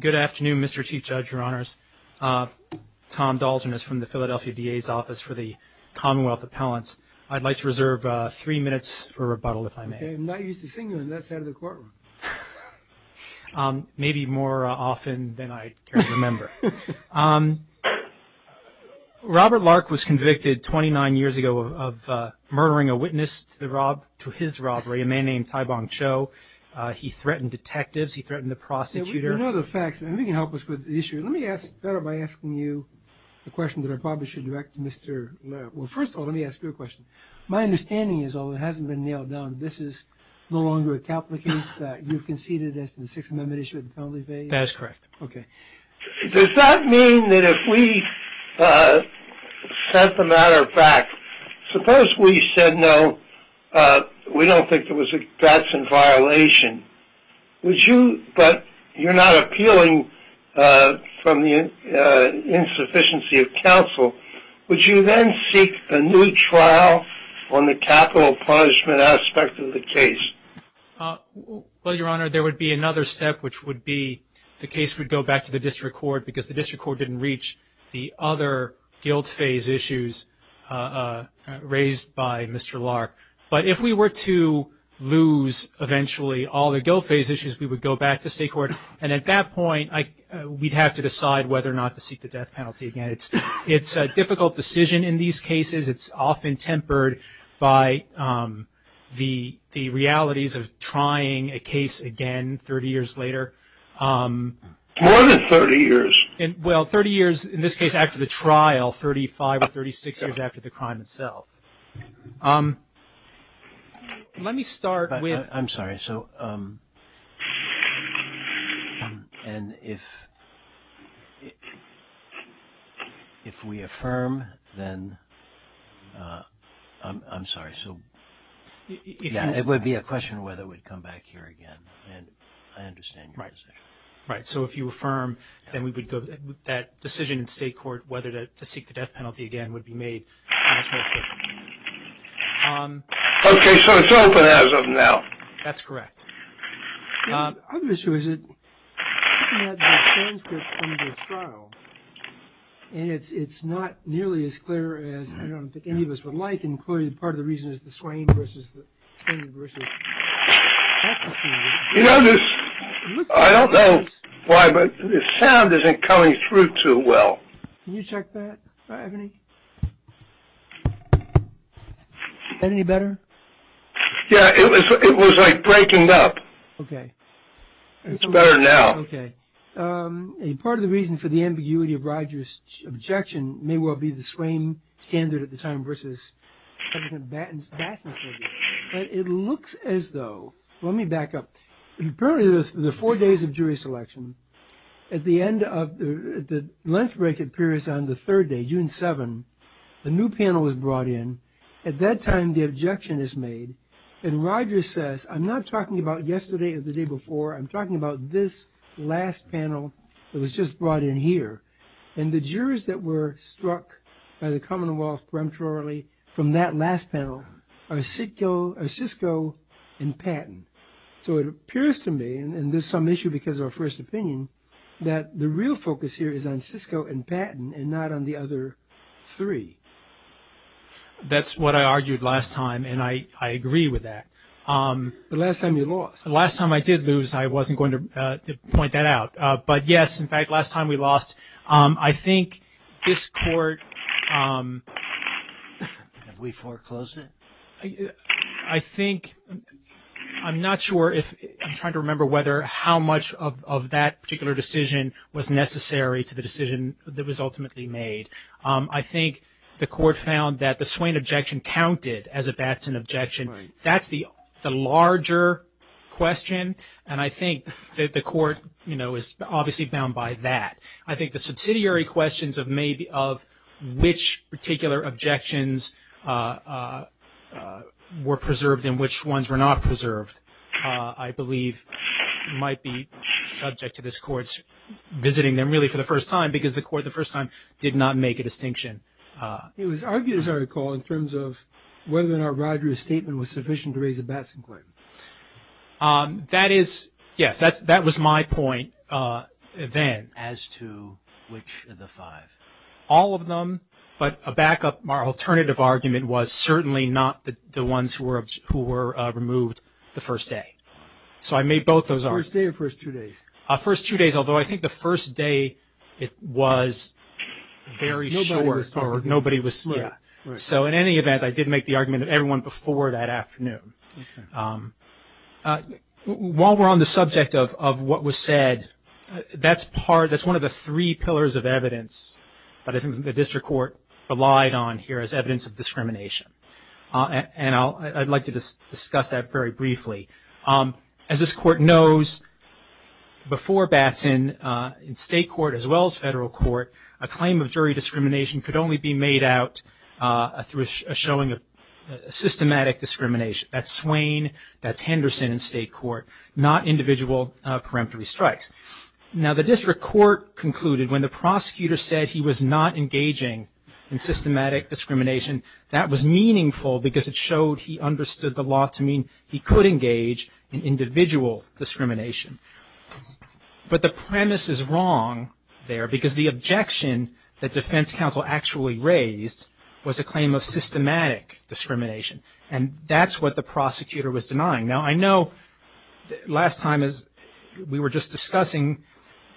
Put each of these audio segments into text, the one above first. Good afternoon, Mr. Chief Judge, Your Honors. Tom Dalton is from the Philadelphia DA's Office for the Commonwealth Appellants. I'd like to reserve three minutes for rebuttal, if I may. Okay, I'm not used to seeing you on that side of the courtroom. Maybe more often than I can remember. Robert Lark was convicted 29 years ago of murdering a witness to his robbery, a man named Tai Bong Cho. He threatened detectives. He threatened the prosecutor. You know the facts. Maybe you can help us with the issue. Let me ask, better by asking you the question that I probably should direct to Mr. Lark. Well, first of all, let me ask you a question. My understanding is, although it hasn't been nailed down, this is no longer a capital case that you conceded as to the Sixth Amendment issue of the penalty phase? That is correct. Okay. Does that mean that if we set the matter back, suppose we said no, we don't think that that's in violation, would you, but you're not appealing from the insufficiency of counsel, would you then seek a new trial on the capital punishment aspect of the case? Well, Your Honor, there would be another step, which would be the case would go back to the district court because the district court didn't reach the other guilt phase issues raised by Mr. Lark. But if we were to lose eventually all the guilt phase issues, we would go back to state court. And at that point, we'd have to decide whether or not to seek the death penalty again. It's a difficult decision in these cases. It's often tempered by the realities of trying a case again 30 years later. More than 30 years. Well, 30 years, in this case, after the trial, 35 or 36 years after the crime itself. Let me start with... I'm sorry, so and if if we affirm then I'm sorry, so yeah, it would be a question of whether we'd come back here again. And I understand. Right, right. So if you affirm, then we would go that decision in state court whether to seek the death penalty again would be made in this case. Okay, so it's open as of now. That's correct. And it's not nearly as clear as I don't think any of us would like, including part of the reason is the Swain versus... You know this, I don't know why, but the sound isn't coming through too well. Is that any better? Yeah, it was like breaking up. Okay. It's better now. Okay. A part of the reason for the ambiguity of Rogers' objection may well be the Swain standard at the time versus President Batson's statute. But it looks as though... Let me back up. Apparently, the four days of jury selection, at the end of the length break that appears on the third day, June 7, a new panel was brought in. At that time, the objection is made. And Rogers says, I'm not talking about yesterday or the day before. I'm talking about this last panel that was just brought in here. And the jurors that were struck by the Commonwealth prematurely from that last panel are Sisco and Patton. So it appears to me, and there's some issue because of our first opinion, that the real focus here is on Sisco and Patton and not on the other three. That's what I argued last time, and I agree with that. But last time you lost. Last time I did lose, I wasn't going to point that out. But yes, in fact, last time we lost. I think this Court... Have we foreclosed it? I think... I'm not sure if... I'm trying to remember whether how much of that particular decision was necessary to the decision that was ultimately made. I think the Court found that the Swain objection counted as a Batson objection. That's the larger question, and I think that the Court, you know, is obviously bound by that. I think the subsidiary questions of which particular objections were preserved and which ones were not preserved, I believe might be subject to this Court's visiting them really for the first time because the Court the first time did not make a distinction. It was argued, as I recall, in terms of whether or not Rodgers' statement was sufficient to raise a Batson claim. That is, yes, that was my point then. As to which of the five? All of them, but a backup, our alternative argument was certainly not the ones who were removed the first day. So I made both those arguments. First day or first two days? First two days, although I think the first day it was very short. Nobody was forward. Nobody was slow. So in any event, I did make the argument of everyone before that afternoon. While we're on the subject of what was said, that's part, that's one of the three pillars of evidence that I think the District Court relied on here as evidence of discrimination. And I'd like to discuss that very briefly. As this Court knows, before Batson, in state court as well as federal court, a claim of jury discrimination could only be made out through a showing of jurisdiction in state court, not individual peremptory strikes. Now the District Court concluded when the prosecutor said he was not engaging in systematic discrimination, that was meaningful because it showed he understood the law to mean he could engage in individual discrimination. But the premise is wrong there, because the objection that defense counsel actually raised was a claim of systematic discrimination. And that's what the prosecutor was denying. Now, I know last time as we were just discussing,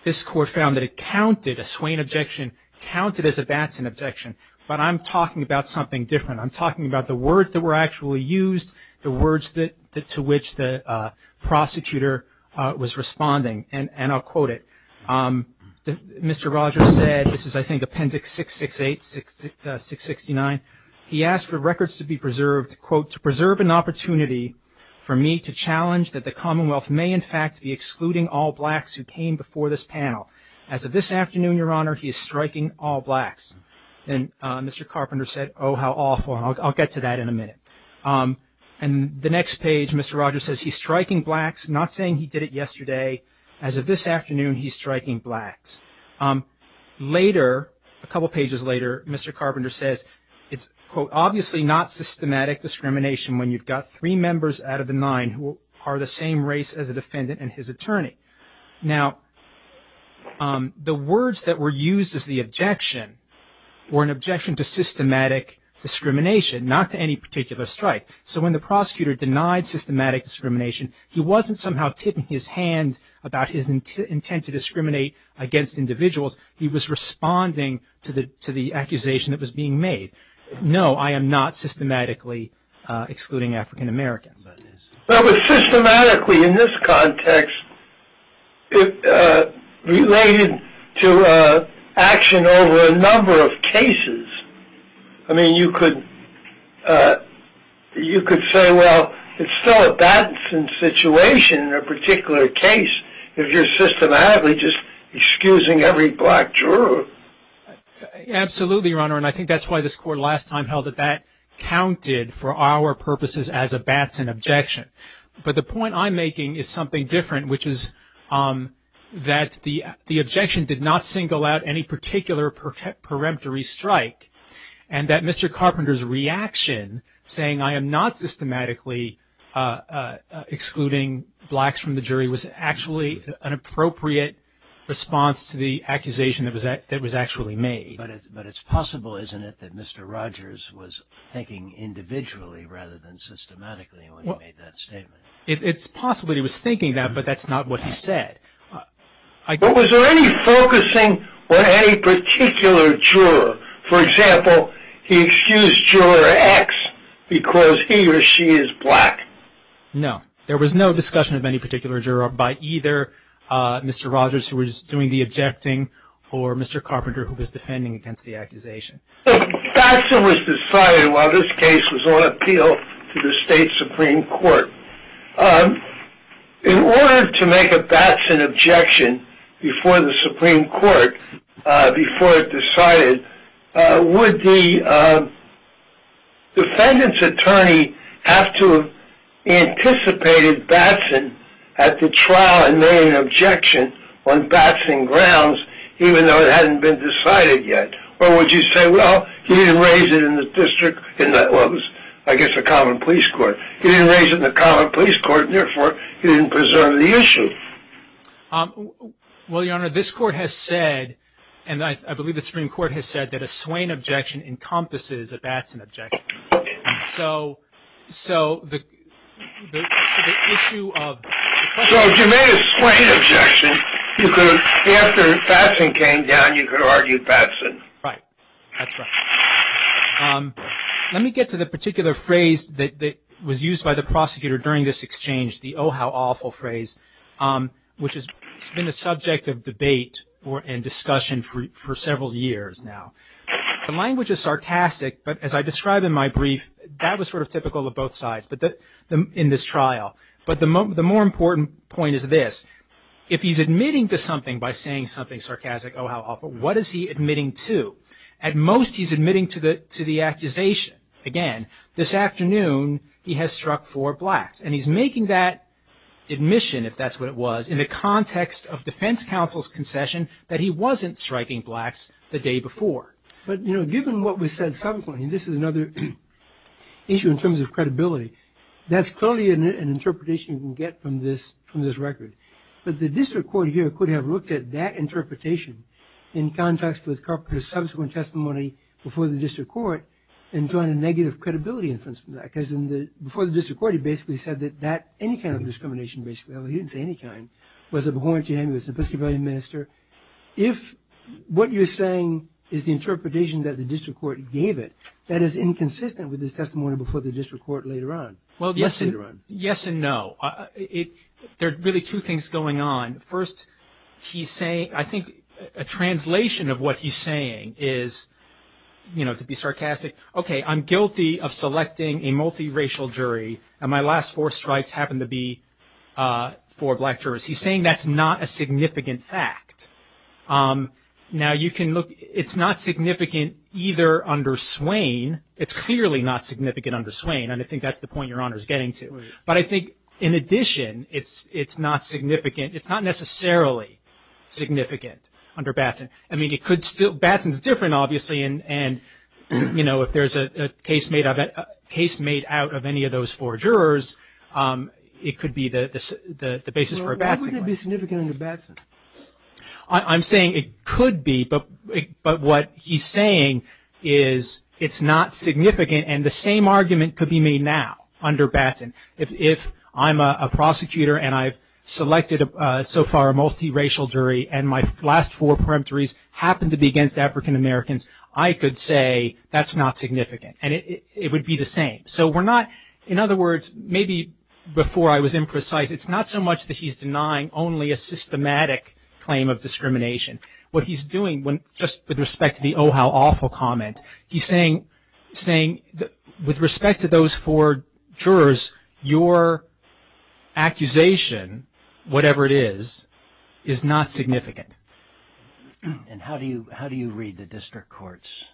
this Court found that it counted, a Swain objection counted as a Batson objection, but I'm talking about something different. I'm talking about the words that were actually used, the words that to which the prosecutor was responding, and I'll quote it. Mr. Rogers said, this is I think Appendix 668, 669, he asked for records to be preserved, quote, to preserve an opportunity for me to challenge that the Commonwealth may in fact be excluding all blacks who came before this panel. As of this afternoon, your honor, he is striking all blacks. And Mr. Carpenter said, oh, how awful. I'll get to that in a minute. And the next page, Mr. Rogers says, he's striking blacks, not saying he did it yesterday. As of this afternoon, he's striking blacks. Later, a couple pages later, Mr. Carpenter says, it's, quote, obviously not systematic discrimination when you've got three members out of the nine who are the same race as a defendant and his attorney. Now, the words that were used as the objection were an objection to systematic discrimination, not to any particular strike. So when the prosecutor denied systematic discrimination, he wasn't somehow tipping his hand about his intent to discriminate against individuals. He was responding to the accusation that was being made. No, I am not systematically excluding African Americans. Well, but systematically in this context, it related to action over a number of cases. I mean, you could say, well, it's still a Batson situation in a particular case if you're systematically just excusing every black juror. Absolutely, Your Honor, and I think that's why this Court last time held that that counted for our purposes as a Batson objection. But the point I'm making is something different, which is that the objection did not single out any particular preemptory strike, and that Mr. Carpenter's reaction, saying, I am not systematically excluding blacks from the jury, was actually an appropriate response to the accusation that was actually made. But it's possible, isn't it, that Mr. Rogers was thinking individually rather than systematically when he made that statement? It's possible that he was thinking that, but that's not what he said. But was there any focusing on any particular juror? For example, he excused juror X because he or she is black. No, there was no discussion of any particular juror by either Mr. Rogers, who was doing the objecting, or Mr. Carpenter, who was defending against the accusation. So, Batson was decided while this case was on appeal to the State Supreme Court. In order to make a Batson objection before the Supreme Court, before it decided, would the defendant's attorney have to have anticipated Batson at the trial and made an objection on Batson grounds, even though it hadn't been decided yet? Or would you say, well, he didn't raise it in the district, I guess, the Common Police Court. He didn't raise it in the Common Police Court, and therefore he didn't preserve the issue. Well, Your Honor, this Court has said, and I believe the Supreme Court has said, that a Swain objection encompasses a Batson objection. So, the issue of... So, if you made a Swain objection, after Batson came down, you could argue Batson. Right. That's right. Let me get to the particular phrase that was used by the prosecutor during this exchange, the oh-how-awful phrase, which has been a subject of debate and discussion for several years now. The language is sarcastic, but as I described in my brief, that was sort of typical of both sides in this trial. But the more important point is this. If he's admitting to something by saying something sarcastic, oh-how-awful, what is he admitting to? At most, he's admitting to the accusation. Again, this afternoon, he has struck four blacks, and he's making that admission, if that's what it was, in the context of defense counsel's concession, that he wasn't striking blacks the day before. But, you know, given what was said subsequently, and this is another issue in terms of credibility, that's clearly an interpretation you can get from this record. But the district court here could have looked at that interpretation in context with Carpenter's subsequent testimony before the district court and join a negative credibility inference from that, because before the district court, he basically said that any kind of discrimination, basically, although he didn't say any kind, was abhorrent to him, he was an Episcopalian minister. If what you're saying is the interpretation that the district court gave it, that is inconsistent with his testimony before the district court later on. Well, yes and no. There are really two things going on. First, he's saying, I think, a translation of what he's saying is, you know, to be sarcastic, okay, I'm guilty of selecting a multiracial jury, and my last four strikes happened to be four black jurors. He's saying that's not a significant fact. Now, you can look, it's not significant either under Swain. It's clearly not significant under Swain, and I think that's the point Your Honor is getting to. But I think in addition, it's not significant. It's not necessarily significant under Batson. I mean, it could still, Batson's different, obviously, and, you know, if there's a case made of it, case made out of any of those four jurors, it could be the basis for a Batson claim. Why wouldn't it be significant under Batson? I'm saying it could be, but what he's saying is it's not significant, and the same argument could be made now under Batson. If I'm a prosecutor, and I've selected, so far, a multiracial jury, and my last four peremptories happen to be against African-Americans, I could say that's not significant, and it would be the same. So we're not, in other words, maybe before I was imprecise, it's not so much that he's denying only a systematic claim of discrimination. What he's doing when, just with respect to the, oh, how awful comment, he's saying, saying that with respect to those four jurors, your accusation, whatever it is, is not significant. And how do you, how do you read the District Court's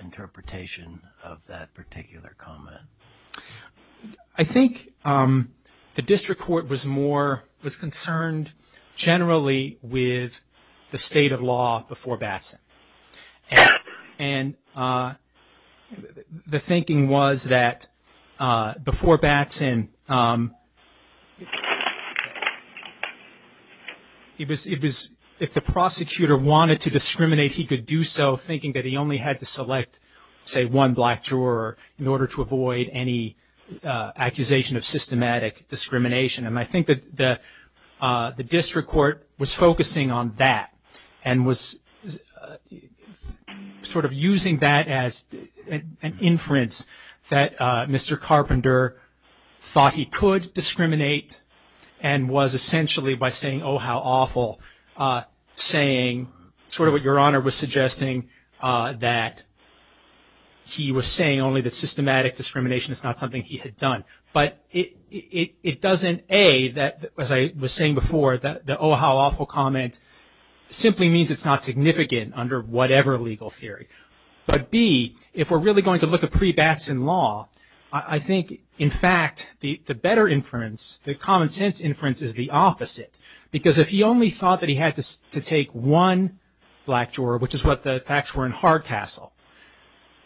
interpretation of that particular comment? I think the District Court was more, was concerned generally with the state of law before Batson, and the thinking was that before Batson, it was, it was, if the prosecutor wanted to discriminate, he could do so, thinking that he only had to select, say, one black juror in order to avoid any accusation of systematic discrimination, and I think that the District Court was focusing on that, and was sort of using that as an inference that Mr. Carpenter thought he could discriminate, and was essentially by saying, oh, how awful, saying sort of what your Honor was suggesting, that he was saying only that systematic discrimination is not something he had done. But it doesn't, A, that, as I was saying before, that the, oh, how awful comment simply means it's not significant under whatever legal theory, but B, if we're really going to look at pre-Batson law, I think, in fact, the better inference, the common-sense inference, is the opposite, because if he only thought that he had to take one black juror, which is what the facts were in Hardcastle,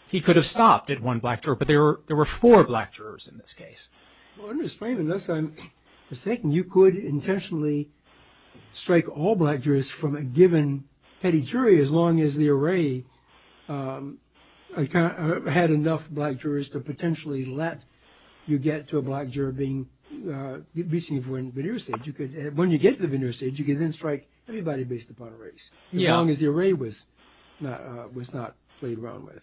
he could have stopped at one black juror, but there were four black jurors in this case. Well, I'm going to explain it, unless I'm mistaken. You could intentionally strike all black jurors from a given petty jury, as long as the array had enough black jurors to potentially let you get to a black juror being, be seen for a veneer stage. You could, when you get to the veneer stage, you could then strike everybody based upon a race, as long as the array was not played around with.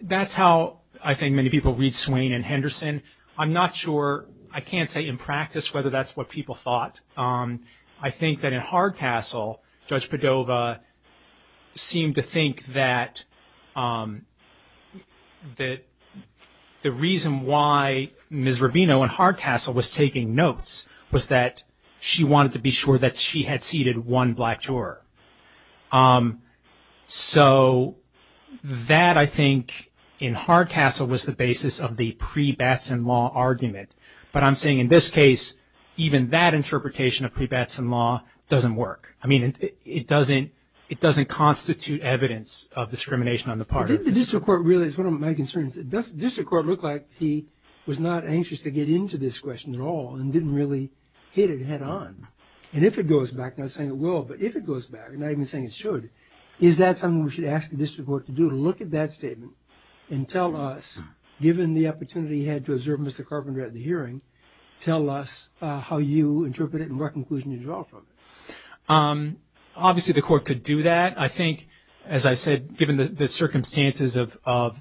That's how I think many people read Swain and Henderson. I'm not sure, I can't say in practice, whether that's what people thought. I think that in Hardcastle, Judge Padova seemed to think that that the reason why Ms. Rubino in Hardcastle was taking notes was that she wanted to be sure that she had seated one black juror. So, that, I think, in Hardcastle was the basis of the pre-Batson law argument. But I'm saying in this case, even that interpretation of pre-Batson law doesn't work. I mean, it doesn't, it doesn't constitute evidence of discrimination on the part of the district court. Really, it's one of my concerns. Does the district court look like he was not anxious to get into this question at all and didn't really hit it head on? And if it goes back, not saying it will, but if it goes back, not even saying it should, is that something we should ask the district court to do? To look at that statement and tell us, given the opportunity he had to observe Mr. Carpenter at the hearing, tell us how you interpret it and what conclusion you draw from it. Obviously, the court could do that. I think, as I said, given the circumstances of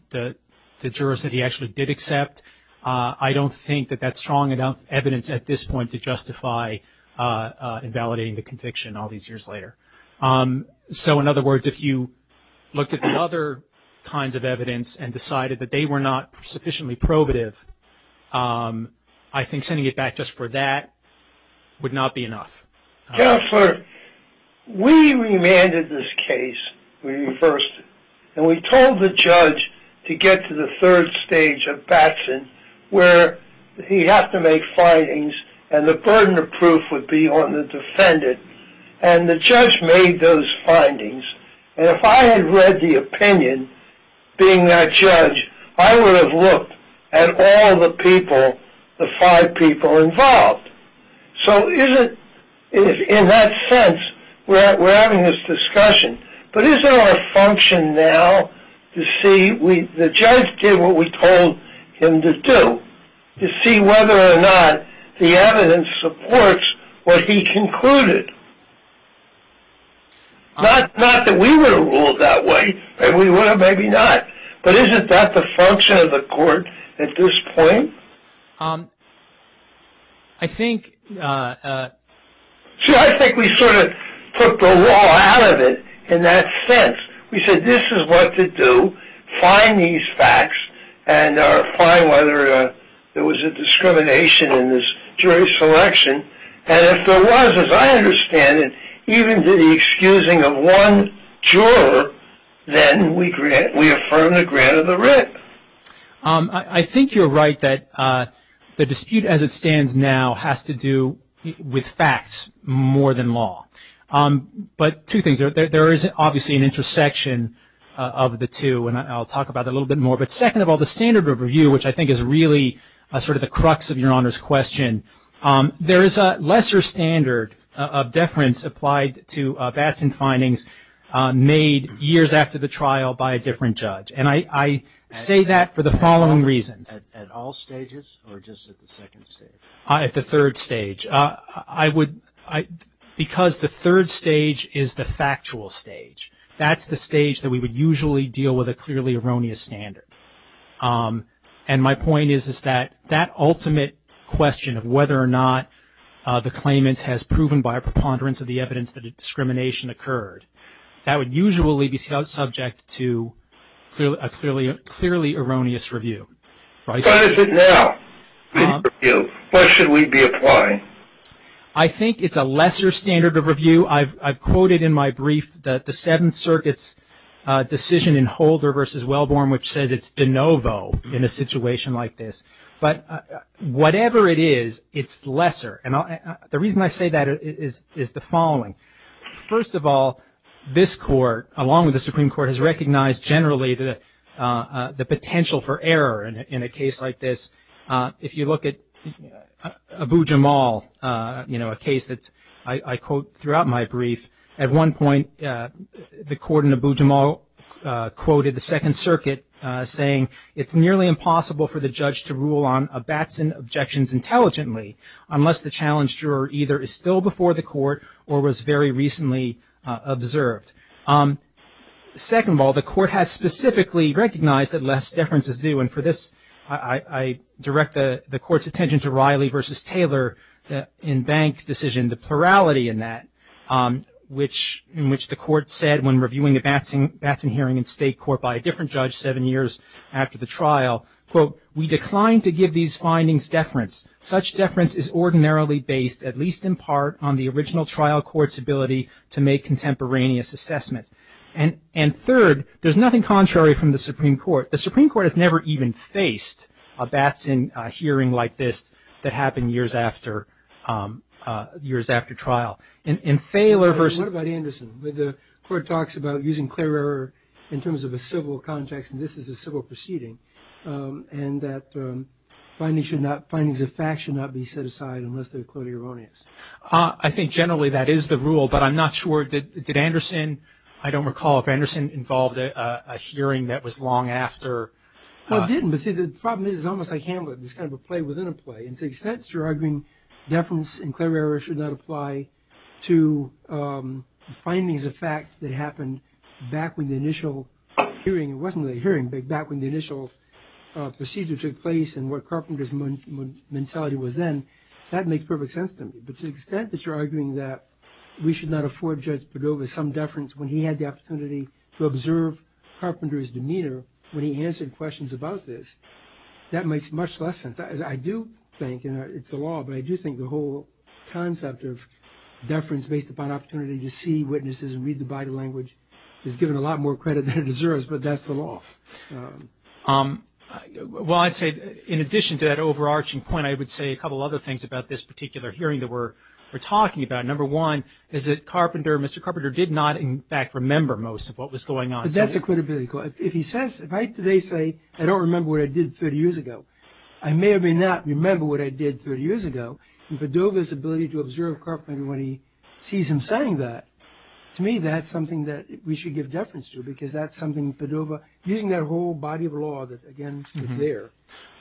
the jurors that he actually did accept, I don't think that that's strong enough evidence at this point to justify invalidating the conviction all these years later. So, in other words, if you looked at the other kinds of evidence and decided that they were not sufficiently probative, I think sending it back just for that would not be enough. Counselor, we remanded this case, we reversed it, and we told the judge to get to the third stage of Batson where he has to make findings and the burden of proof would be on the defendant. And the judge made those findings. And if I had read the opinion, being that judge, I would have looked at all the people, the five people involved. So, in that sense, we're having this discussion. But is there a function now to see, the judge did what we told him to do. To see whether or not the evidence supports what he concluded. Not that we would have ruled that way. Maybe we would have, maybe not. But isn't that the function of the court at this point? I think... See, I think we sort of put the law out of it in that sense. We said, this is what to do. Find these facts and find whether there was a discrimination in this jury selection. And if there was, as I understand it, even to the excusing of one juror, then we grant, we affirm the grant of the writ. I think you're right that the dispute as it stands now has to do with facts more than law. But two things, there is obviously an intersection of the two and I'll talk about a little bit more. But second of all, the standard of review, which I think is really sort of the crux of your honor's question. There is a lesser standard of deference applied to Batson findings made years after the trial by a different judge. And I say that for the following reasons. At all stages or just at the second stage? At the third stage. I would, because the third stage is the factual stage. That's the stage that we would usually deal with a clearly erroneous standard. And my point is that that ultimate question of whether or not the claimant has proven by a preponderance of the evidence that a discrimination occurred, that would usually be subject to a clearly erroneous review. What is it now? What should we be applying? I think it's a lesser standard of review. I've quoted in my brief that the Seventh Circuit's decision in Holder v. Wellborn, which says it's de novo in a situation like this. But whatever it is, it's lesser. And the reason I say that is the following. First of all, this Court, along with the Supreme Court, has recognized generally the potential for error in a case like this. If you look at Abu-Jamal, a case that I quote throughout my brief, at one point the Court in Abu-Jamal quoted the Second Circuit saying, it's nearly impossible for the judge to rule on a Batson objections intelligently, unless the challenge juror either is still before the Court or was very recently observed. Second of all, the Court has specifically recognized that less deference is due. And for this, I direct the Court's attention to Riley v. Taylor in Bank decision, the plurality in that, in which the Court said when reviewing the Batson hearing in State Court by a different judge seven years after the trial, quote, we decline to give these findings deference. Such deference is ordinarily based, at least in part, on the original trial court's ability to make contemporaneous assessments. And third, there's nothing contrary from the Supreme Court. The Supreme Court has never even faced a Batson hearing like this that happened years after years after trial. And in Taylor v. What about Anderson, where the Court talks about using clear error in terms of a civil context, and this is a civil proceeding, and that findings of fact should not be set aside unless they're clearly erroneous. I think generally that is the rule, but I'm not sure, did Anderson, I don't recall if Anderson involved a hearing that was long after. No, it didn't. But see, the problem is it's almost like Hamlet. It's kind of a play within a play. And to the extent you're arguing deference and clear error should not apply to findings of fact that happened back when the initial hearing, it wasn't a hearing, but back when the initial procedure took place and what Carpenter's mentality was then, that makes perfect sense to me. But to the extent that you're arguing that we should not afford Judge Padova some deference when he had the opportunity to observe Carpenter's demeanor when he answered questions about this, that makes much less sense. I do think, and it's the law, but I do think the whole concept of deference based upon opportunity to see witnesses and read the body language is given a lot more credit than it deserves, but that's the law. Well, I'd say in addition to that overarching point, I would say a couple other things about this particular hearing that we're talking about. Number one is that Carpenter, Mr. Carpenter, did not in fact remember most of what was going on. But that's a credibility question. If he says, if I today say I don't remember what I did 30 years ago, I may or may not remember what I did 30 years ago. And Padova's ability to observe Carpenter when he sees him saying that, to me, that's something that we should give deference to because that's something Padova, using that whole body of law that again is there,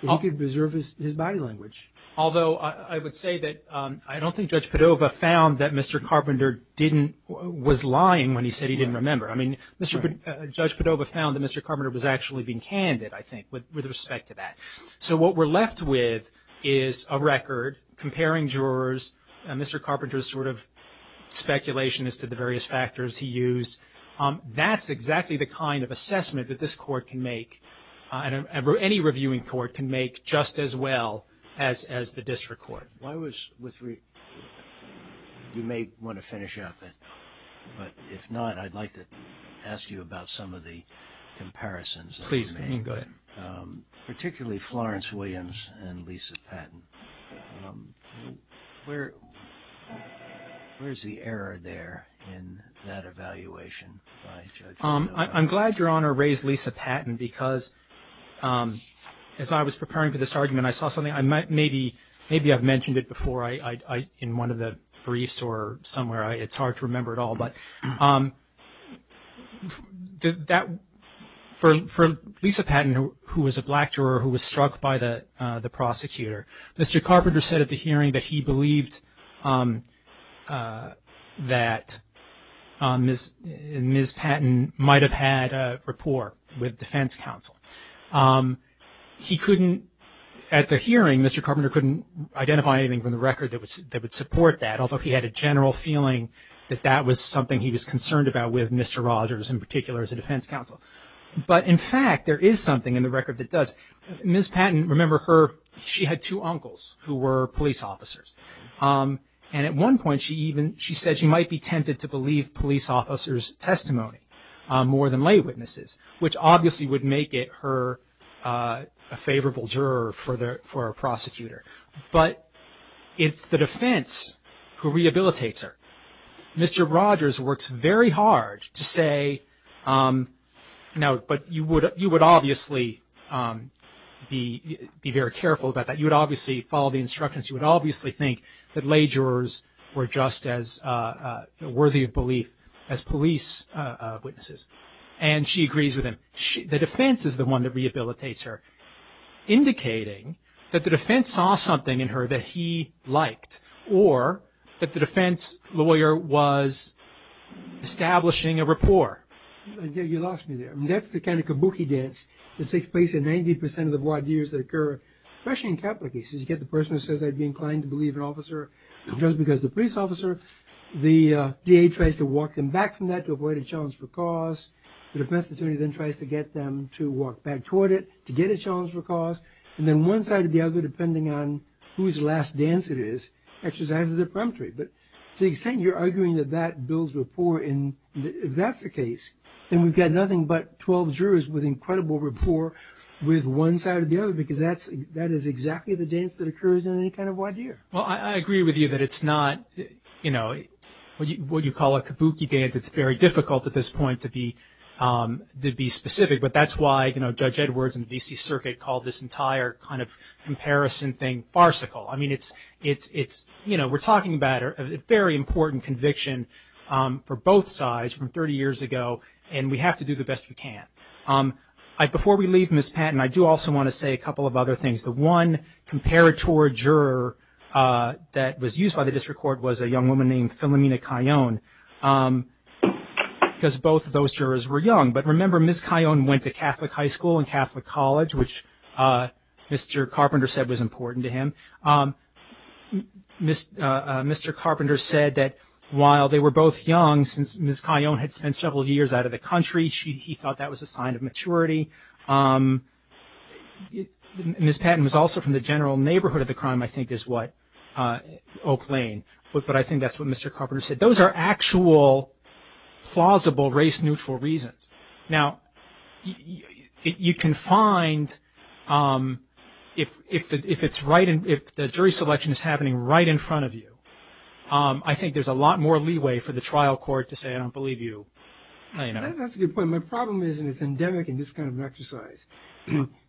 he could preserve his body language. Although I would say that I don't think Judge Padova found that Mr. Carpenter didn't, was lying when he said he didn't remember. I mean, Judge Padova found that Mr. Carpenter was actually being candid, I think, with respect to that. So what we're left with is a record comparing jurors and Mr. Carpenter's sort of speculation as to the various factors he used. That's exactly the kind of assessment that this court can make, and any reviewing court can make, just as well as the district court. You may want to finish out that, but if not, I'd like to ask you about some of the comparisons. Please, go ahead. Particularly Florence Williams and Lisa Patton. Where, where's the error there in that evaluation by Judge Padova? I'm glad Your Honor raised Lisa Patton because as I was preparing for this argument, I saw something, I might maybe, maybe I've mentioned it before, in one of the briefs or somewhere. It's hard to remember it all, but that, for Lisa Patton, who was a black juror, who was struck by the prosecutor, Mr. Carpenter said at the hearing that he believed that Ms. Patton might have had a rapport with defense counsel. He couldn't, at the hearing, Mr. Carpenter couldn't identify anything from the record that would support that, although he had a general feeling that that was something he was concerned about with Mr. Rogers in particular as a defense counsel. But in fact, there is something in the record that does. Ms. Patton, remember her, she had two uncles who were police officers. And at one point, she even, she said she might be tempted to believe police officers' testimony more than lay witnesses, which obviously would make it her, a favorable juror for the, for a prosecutor. But it's the defense who rehabilitates her. Mr. Rogers works very hard to say, no, but you would, you would obviously be, be very careful about that. You would obviously follow the instructions. You would obviously think that lay jurors were just as worthy of belief as police witnesses. And she agrees with him. The defense is the one that rehabilitates her, indicating that the defense saw something in her that he liked, or that the defense lawyer was establishing a rapport. You lost me there. I mean, that's the kind of kabuki dance that takes place in 90% of the void years that occur, especially in capital cases. You get the person who says I'd be inclined to believe an officer just because the police officer, the DA tries to walk them back from that to avoid a challenge for cause. The defense attorney then tries to get them to walk back toward it to get a challenge for cause. And then one side or the other, depending on whose last dance it is, exercises a peremptory. But to the extent you're arguing that that builds rapport in, if that's the case, then we've got nothing but 12 jurors with incredible rapport with one side or the other, because that's, that is exactly the dance that occurs in any kind of wide year. Well, I agree with you that it's not, you know, what you call a kabuki dance. It's very difficult at this point to be, to be specific, but that's why, you know, Judge Edwards in the D.C. Circuit called this entire kind of comparison thing farcical. I mean, it's, it's, it's, you know, we're talking about a very important conviction for both sides from 30 years ago, and we have to do the best we can. Before we leave Ms. Patton, I do also want to say a couple of other things. The one comparator juror that was used by the District Court was a young woman named Philomena Cayonne, because both of those jurors were young. But remember, Ms. Cayonne went to Catholic High School and Catholic College, which Mr. Carpenter said was important to him. Mr. Carpenter said that while they were both young, since Ms. Cayonne had spent several years out of the country, she, he thought that was a sign of maturity. Ms. Patton was also from the general neighborhood of the crime, I think is what, Oak Lane, but I think that's what Mr. Carpenter said. Those are actual, plausible race-neutral reasons. Now, you can find, if it's right, if the jury selection is happening right in front of you, I think there's a lot more leeway for the trial court to say, I don't believe you, you know. That's a good point. My problem is, and it's endemic in this kind of exercise,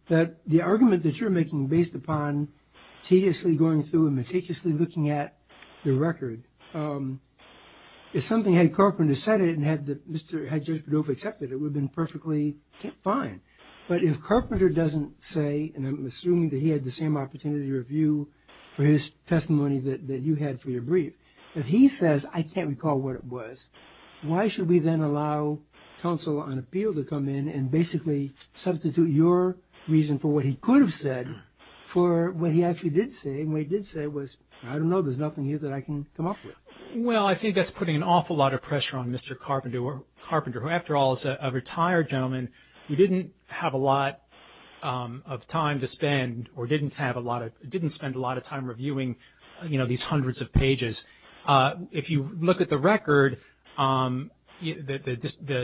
that the argument that you're making based upon tediously going through and meticulously looking at the record, if something had Carpenter said it and had the, Mr., had Judge Badova accepted it, it would have been perfectly fine. But if Carpenter doesn't say, and I'm assuming that he had the same opportunity to review for his testimony that you had for your brief, if he says, I can't recall what it was, why should we then allow counsel on appeal to come in and basically substitute your reason for what he could have said for what he actually did say, and what he did say was, I don't know, there's nothing here that I can come up with. Well, I think that's putting an awful lot of pressure on Mr. Carpenter, who after all is a retired gentleman who didn't have a lot of time to spend or didn't have a lot of, didn't spend a lot of time reviewing, you know, these hundreds of pages. If you look at the record, the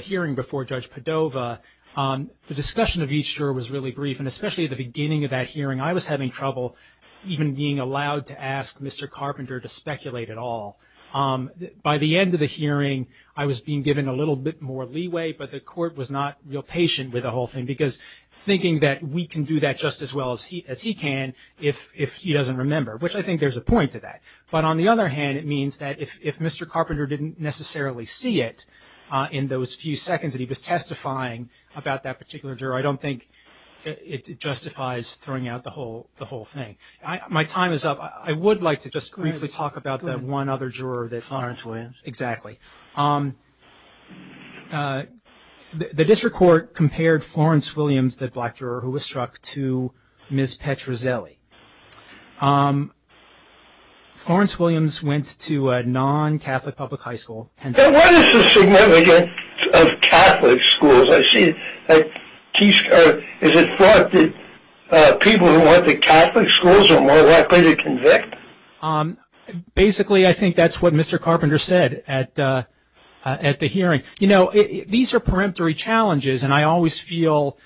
hearing before Judge Badova, the discussion of each juror was really brief, and especially at the beginning of that hearing, I was having trouble even being allowed to ask Mr. Carpenter to speculate at all. By the end of the hearing, I was being given a little bit more leeway, but the court was not real patient with the whole thing, because thinking that we can do that just as well as he can if he doesn't remember, which I think there's a point to that. But on the other hand, it means that if Mr. Carpenter didn't necessarily see it in those few seconds that he was testifying about that particular juror, I don't think it justifies throwing out the whole thing. My time is up. I would like to just briefly talk about that one other juror. Florence Williams. Exactly. The district court compared Florence Williams, the black juror who was struck, to Ms. Petruzzelli. Florence Williams went to a non-Catholic public high school. So what is the significance of Catholic schools? I see that is it thought that people who went to Catholic schools are more likely to convict? Basically, I think that's what Mr. Carpenter said at the hearing. You know, these are peremptory challenges, and I always feel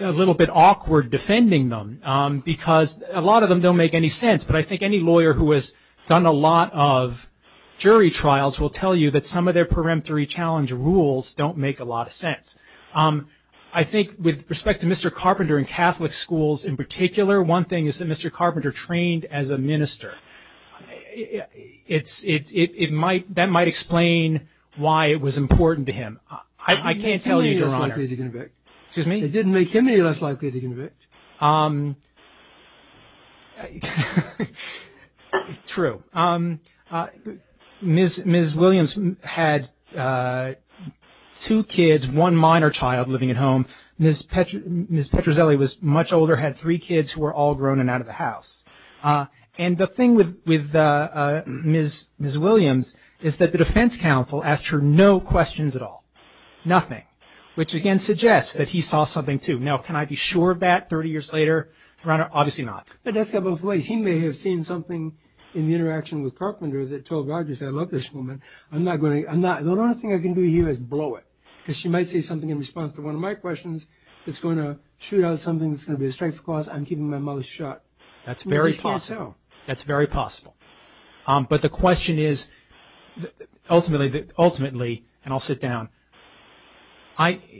a little bit awkward defending them, because a lot of them don't make any sense. But I think any lawyer who has done a lot of jury trials will tell you that some of their peremptory challenge rules don't make a lot of sense. I think with respect to Mr. Carpenter and Catholic schools in particular, one thing is that Mr. Carpenter trained as a minister. That might explain why it was important to him. I can't tell you, Your Honor. It didn't make him any less likely to convict. True. Ms. Williams had two kids, one minor child living at home. Ms. Petruzzelli was much older, had three kids who were all grown and out of the house. And the thing with Ms. Williams is that the defense counsel asked her no questions at all. Nothing. Which again suggests that he saw something too. Now, can I be sure of that 30 years later? Your Honor, obviously not. But that's got both ways. He may have seen something in the interaction with Carpenter that told Rogers, I'm not going to, the only thing I can do here is blow it. Because she might say something in response to one of my questions. It's going to shoot out something that's going to be a strike for cause. I'm keeping my mouth shut. That's very possible. That's very possible. But the question is, ultimately, and I'll sit down,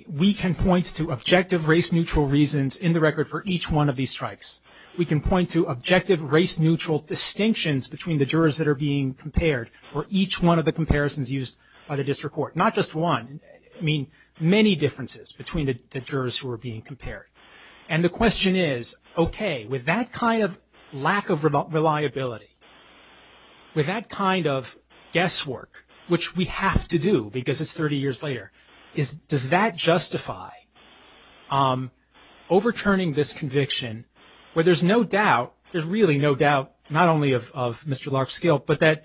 we can point to objective race-neutral reasons in the record for each one of these strikes. We can point to objective race-neutral distinctions between the jurors that are being compared for each one of the comparisons used by the district court. Not just one, I mean many differences between the jurors who are being compared. And the question is, okay, with that kind of lack of reliability, with that kind of guesswork, which we have to do because it's 30 years later, is, does that justify overturning this conviction where there's no doubt, there's really no doubt, not only of Mr. Larkinskill, but that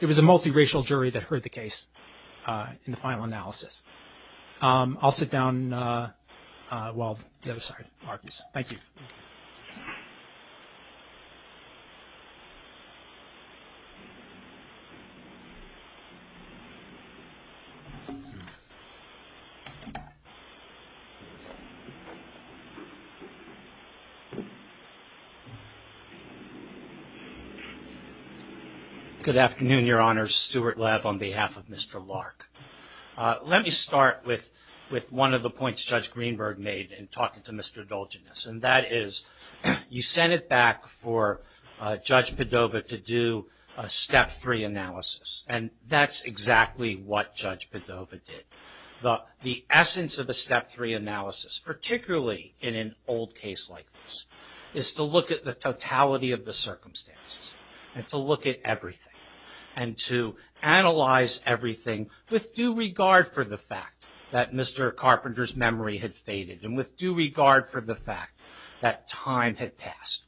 it was a multiracial jury that heard the case in the final analysis. I'll sit down while the other side argues. Thank you. Thank you. Good afternoon, Your Honor. Stuart Lev on behalf of Mr. Lark. Let me start with one of the points Judge Greenberg made in talking to Mr. Dolginus, and that is you sent it back for Judge Padova to do a step three analysis, and that's exactly what Judge Padova did. The essence of a step three analysis, particularly in an old case like this, is to look at the totality of the circumstances, and to look at everything, and to analyze everything with due regard for the fact that Mr. Carpenter's memory had faded, and with due regard for the fact that time had passed.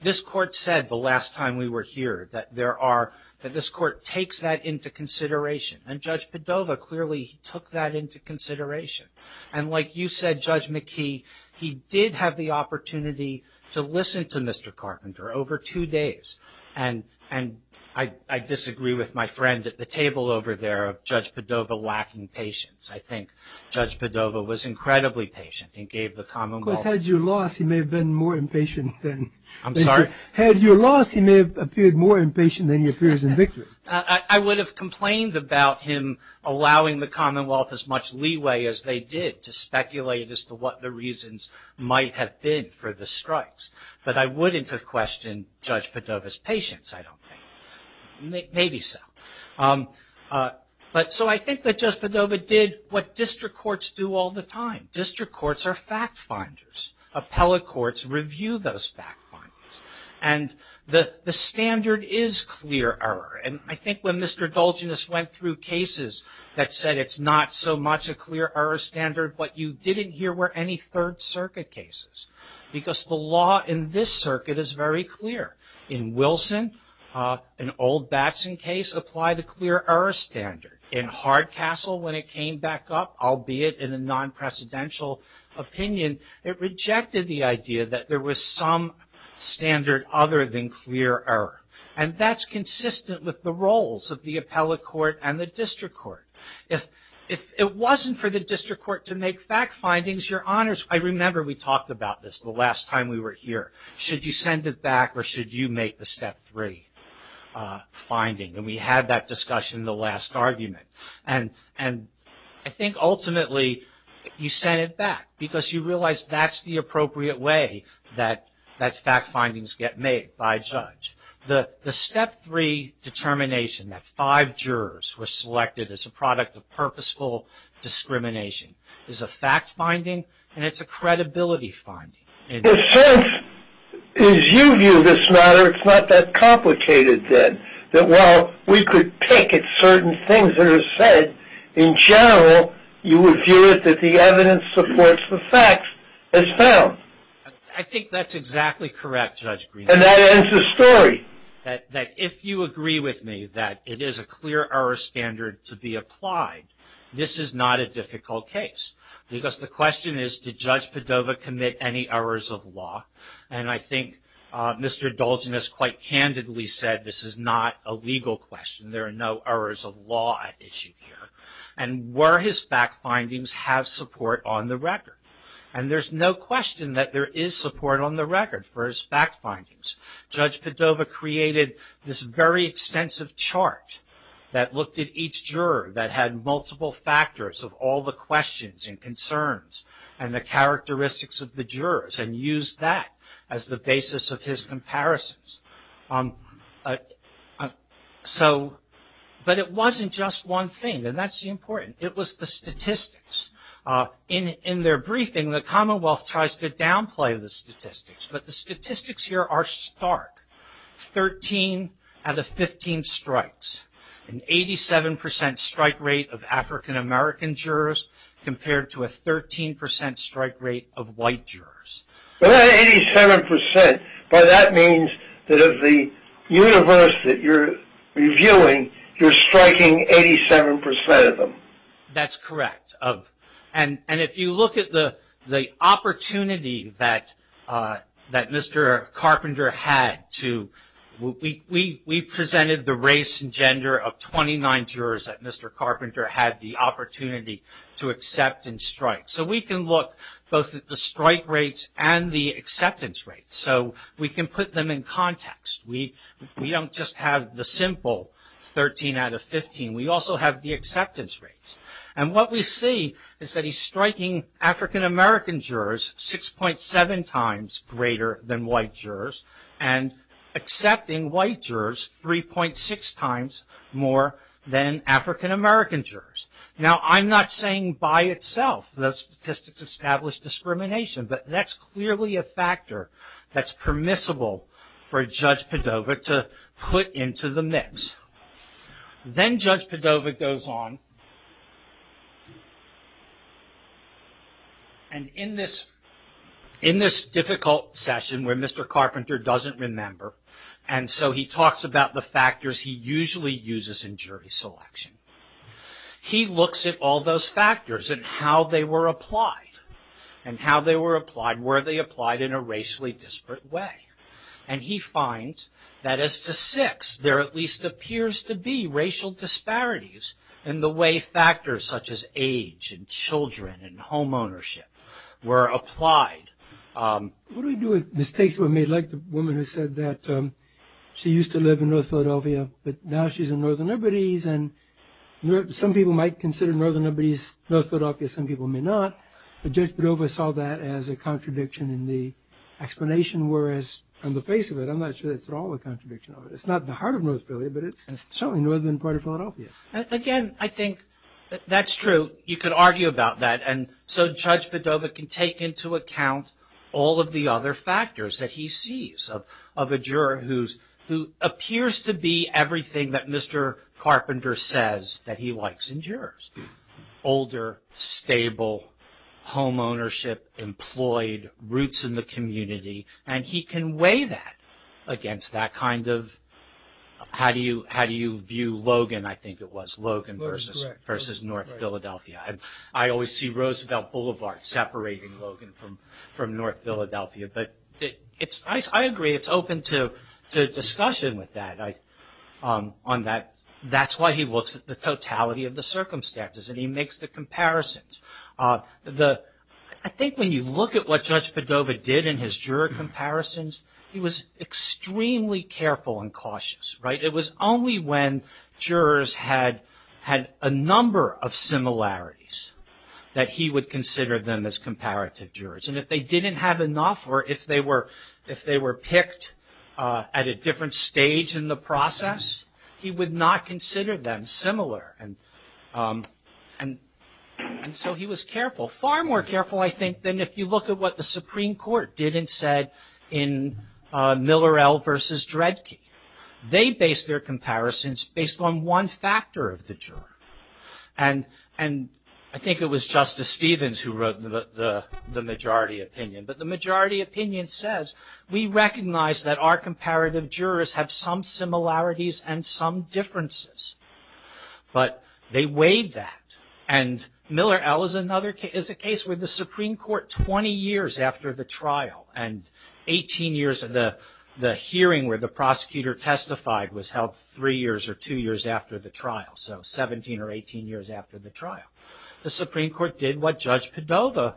This court said the last time we were here that there are, that this court takes that into consideration, and Judge Padova clearly took that into consideration. And like you said, Judge McKee, he did have the opportunity to listen to Mr. Carpenter over two days, and I disagree with my friend at the table over there of Judge Padova lacking patience. I think Judge Padova was incredibly patient and gave the commonwealth. Of course, had you lost, he may have been more impatient than... I'm sorry? Had you lost, he may have appeared more impatient than he appears in victory. I would have complained about him allowing the commonwealth as much leeway as they did to speculate as to what the reasons might have been for the strikes. But I wouldn't have questioned Judge Padova's patience, I don't think. Maybe so. But so I think that Judge Padova did what district courts do all the time. District courts are fact finders. Appellate courts review those fact finders. And the standard is clear error. And I think when Mr. Dolginus went through cases that said it's not so much a clear error standard, but you didn't hear where any Third Circuit cases. Because the law in this circuit is very clear. In Wilson, an old Batson case, applied a clear error standard. In Hardcastle, when it came back up, albeit in a non-precedential opinion, it rejected the idea that there was some standard other than clear error. And that's consistent with the roles of the appellate court and the district court. If it wasn't for the district court to make fact findings, your honors, I remember we talked about this the last time we were here. Should you send it back or should you make the step three finding? And we had that discussion in the last argument. And I think ultimately you sent it back because you realized that's the appropriate way that fact findings get made by a judge. The step three determination, that five jurors were selected as a product of purposeful discrimination, is a fact finding and it's a credibility finding. As you view this matter, it's not that complicated then. That while we could pick at certain things that are said, in general, you would view it that the evidence supports the facts as found. I think that's exactly correct, Judge Green. And that ends the story. That if you agree with me that it is a clear error standard to be applied, this is not a difficult case. Because the question is, did Judge Padova commit any errors of law? And I think Mr. Dolgen has quite candidly said this is not a legal question. There are no errors of law at issue here. And were his fact findings have support on the record? And there's no question that there is support on the record for his fact findings. Judge Padova created this very extensive chart that looked at each juror that had multiple factors of all the questions and concerns and the characteristics of the jurors and used that as the basis of his comparisons. So, but it wasn't just one thing and that's the important. It was the statistics. In their briefing, the commonwealth tries to downplay the statistics, but the statistics here are stark. 13 out of 15 strikes. An 87 percent strike rate of African-American jurors compared to a 13 percent strike rate of white jurors. But that 87 percent, by that means that of the universe that you're reviewing, you're striking 87 percent of them. That's correct. And if you look at the opportunity that that Mr. Carpenter had to we presented the race and gender of 29 jurors that Mr. Carpenter had the opportunity to accept and strike. So we can look both at the strike rates and the acceptance rates. So we can put them in context. We don't just have the simple 13 out of 15. We also have the acceptance rates. And what we see is that he's striking African-American jurors 6.7 times greater than white jurors and accepting white jurors 3.6 times more than African-American jurors. Now, I'm not saying by itself the statistics establish discrimination, but that's clearly a factor that's permissible for Judge Padova to put into the mix. Then Judge Padova goes on and in this in this difficult session where Mr. Carpenter doesn't remember and so he talks about the factors he usually uses in jury selection. He looks at all those factors and how they were applied. And how they were applied, were they applied in a racially disparate way? And he finds that as to 6, there at least appears to be racial disparities in the way factors such as age and children and homeownership were applied. What do we do with mistakes that were made? Like the woman who said that she used to live in North Philadelphia, but now she's in Northern Liberties and some people might consider Northern Liberties North Philadelphia, some people may not. But Judge Padova saw that as a contradiction in the explanation, whereas on the face of it, I'm not sure that's at all a contradiction of it. It's not the heart of North Philadelphia, but it's certainly Northern part of Philadelphia. Again, I think that's true. You could argue about that. And so Judge Padova can take into account all of the other factors that he sees of a juror who's who appears to be everything that Mr. Carpenter says that he likes in jurors. Older, stable, homeownership, employed, roots in the community, and he can weigh that against that kind of how do you how do you view Logan? I think it was Logan versus versus North Philadelphia. I always see Roosevelt Boulevard separating Logan from from North Philadelphia, but it's I agree. It's open to the discussion with that. That's why he looks at the totality of the circumstances and he makes the comparisons. I think when you look at what Judge Padova did in his juror comparisons, he was extremely careful and cautious, right? It was only when jurors had had a number of similarities that he would consider them as comparative jurors. And if they didn't have enough or if they were if they were picked at a different stage in the process, he would not consider them similar. And and so he was careful, far more careful, I think, than if you look at what the Supreme Court did and said in Miller L versus Dredke. They based their comparisons based on one factor of the juror. And I think it was Justice Stevens who wrote the majority opinion. But the majority opinion says we recognize that our comparative jurors have some similarities and some differences. But they weighed that and Miller L is another case, is a case with the Supreme Court 20 years after the trial and 18 years of the hearing where the prosecutor testified was held three years or two years after the trial. So 17 or 18 years after the trial. The Supreme Court did what Judge Padova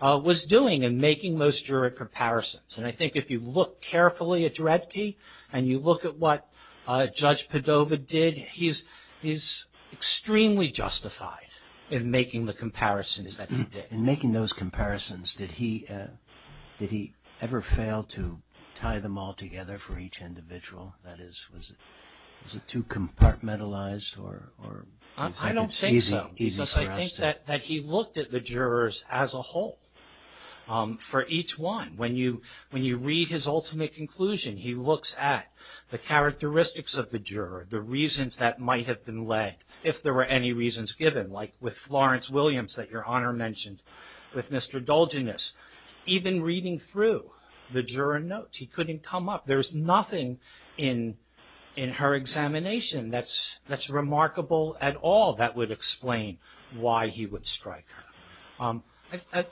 was doing in making those juror comparisons. And I think if you look carefully at Dredke and you look at what he's he's extremely justified in making the comparisons that he did. In making those comparisons, did he did he ever fail to tie them all together for each individual? That is, was it was it too compartmentalized or I don't think so, because I think that that he looked at the jurors as a whole. For each one, when you when you read his ultimate conclusion, he looks at the reasons that might have been led, if there were any reasons given, like with Florence Williams that Your Honor mentioned, with Mr. Dolginus. Even reading through the juror notes, he couldn't come up. There's nothing in in her examination that's that's remarkable at all that would explain why he would strike her.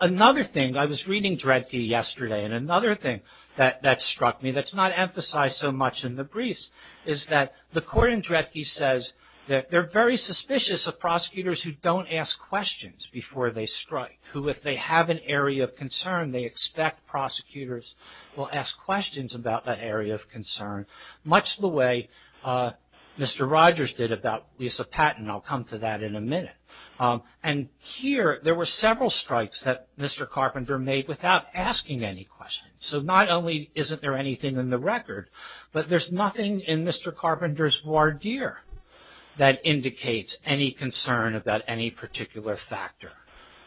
Another thing, I was reading Dredke yesterday and another thing that that struck me that's not emphasized so much in the briefs, is that the court in Dredke says that they're very suspicious of prosecutors who don't ask questions before they strike. Who, if they have an area of concern, they expect prosecutors will ask questions about that area of concern, much the way Mr. Rogers did about Lisa Patton. I'll come to that in a minute. And here, there were several strikes that Mr. Carpenter made without asking any questions. So not only isn't there anything in the record, but there's nothing in Mr. Carpenter's voir dire that indicates any concern about any particular factor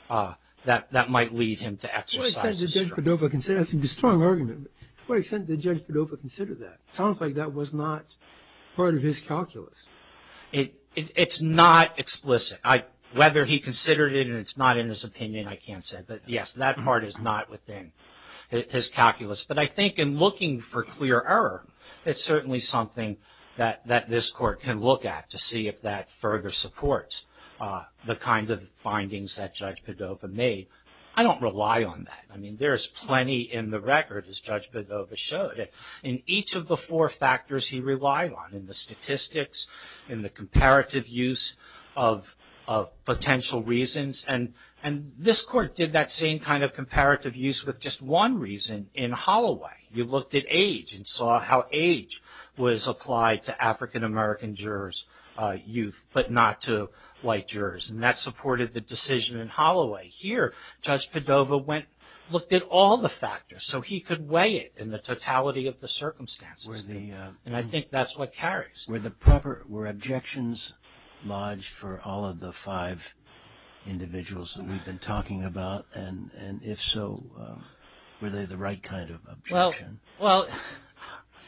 that that might lead him to exercise his strength. To what extent did Judge Padova consider, that's a strong argument, but to what extent did Judge Padova consider that? Sounds like that was not part of his calculus. It's not explicit. Whether he considered it and it's not in his opinion, I can't say. But yes, that part is not within his calculus. But I think in looking for clear error, it's certainly something that this court can look at to see if that further supports the kind of findings that Judge Padova made. I don't rely on that. I mean, there's plenty in the record, as Judge Padova showed, in each of the four factors he relied on, in the statistics, in the comparative use of and this court did that same kind of comparative use with just one reason in Holloway. You looked at age and saw how age was applied to African-American jurors, youth, but not to white jurors. And that supported the decision in Holloway. Here, Judge Padova went, looked at all the factors so he could weigh it in the totality of the circumstances. And I think that's what carries. Were the proper, were objections lodged for all of the five individuals that we've been talking about? And if so, were they the right kind of objection? Well,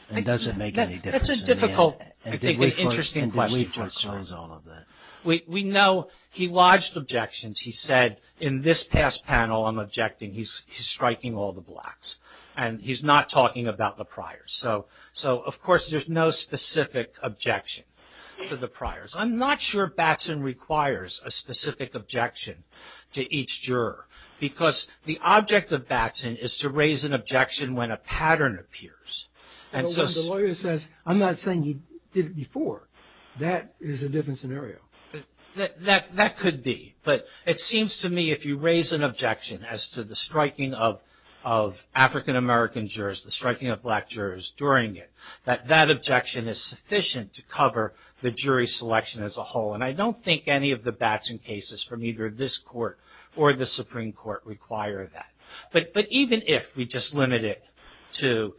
well, It doesn't make any difference. That's a difficult, I think, interesting question. We know he lodged objections. He said in this past panel, I'm objecting. He's striking all the blocks, and he's not talking about the priors. So, of course, there's no specific objection to the priors. I'm not sure Batson requires a specific objection to each juror, because the object of Batson is to raise an objection when a pattern appears, and so the lawyer says, I'm not saying you did it before. That is a different scenario. That could be, but it seems to me if you raise an objection as to the striking of an objection to cover the jury selection as a whole. And I don't think any of the Batson cases from either this court or the Supreme Court require that. But even if we just limit it to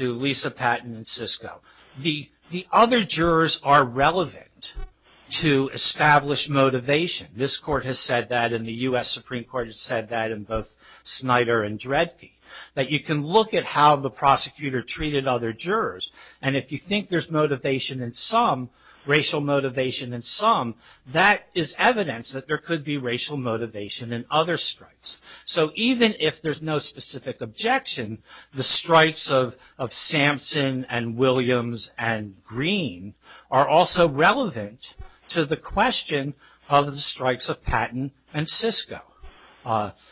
Lisa Patton and Sisko, the other jurors are relevant to established motivation. This court has said that, and the U.S. Supreme Court has said that, and both Snyder and Dredke, that you can look at how the prosecutor treated other jurors, and if you think there's motivation in some, racial motivation in some, that is evidence that there could be racial motivation in other strikes. So even if there's no specific objection, the strikes of Sampson and Williams and Green are also relevant to the question of the strikes of Patton and Sisko.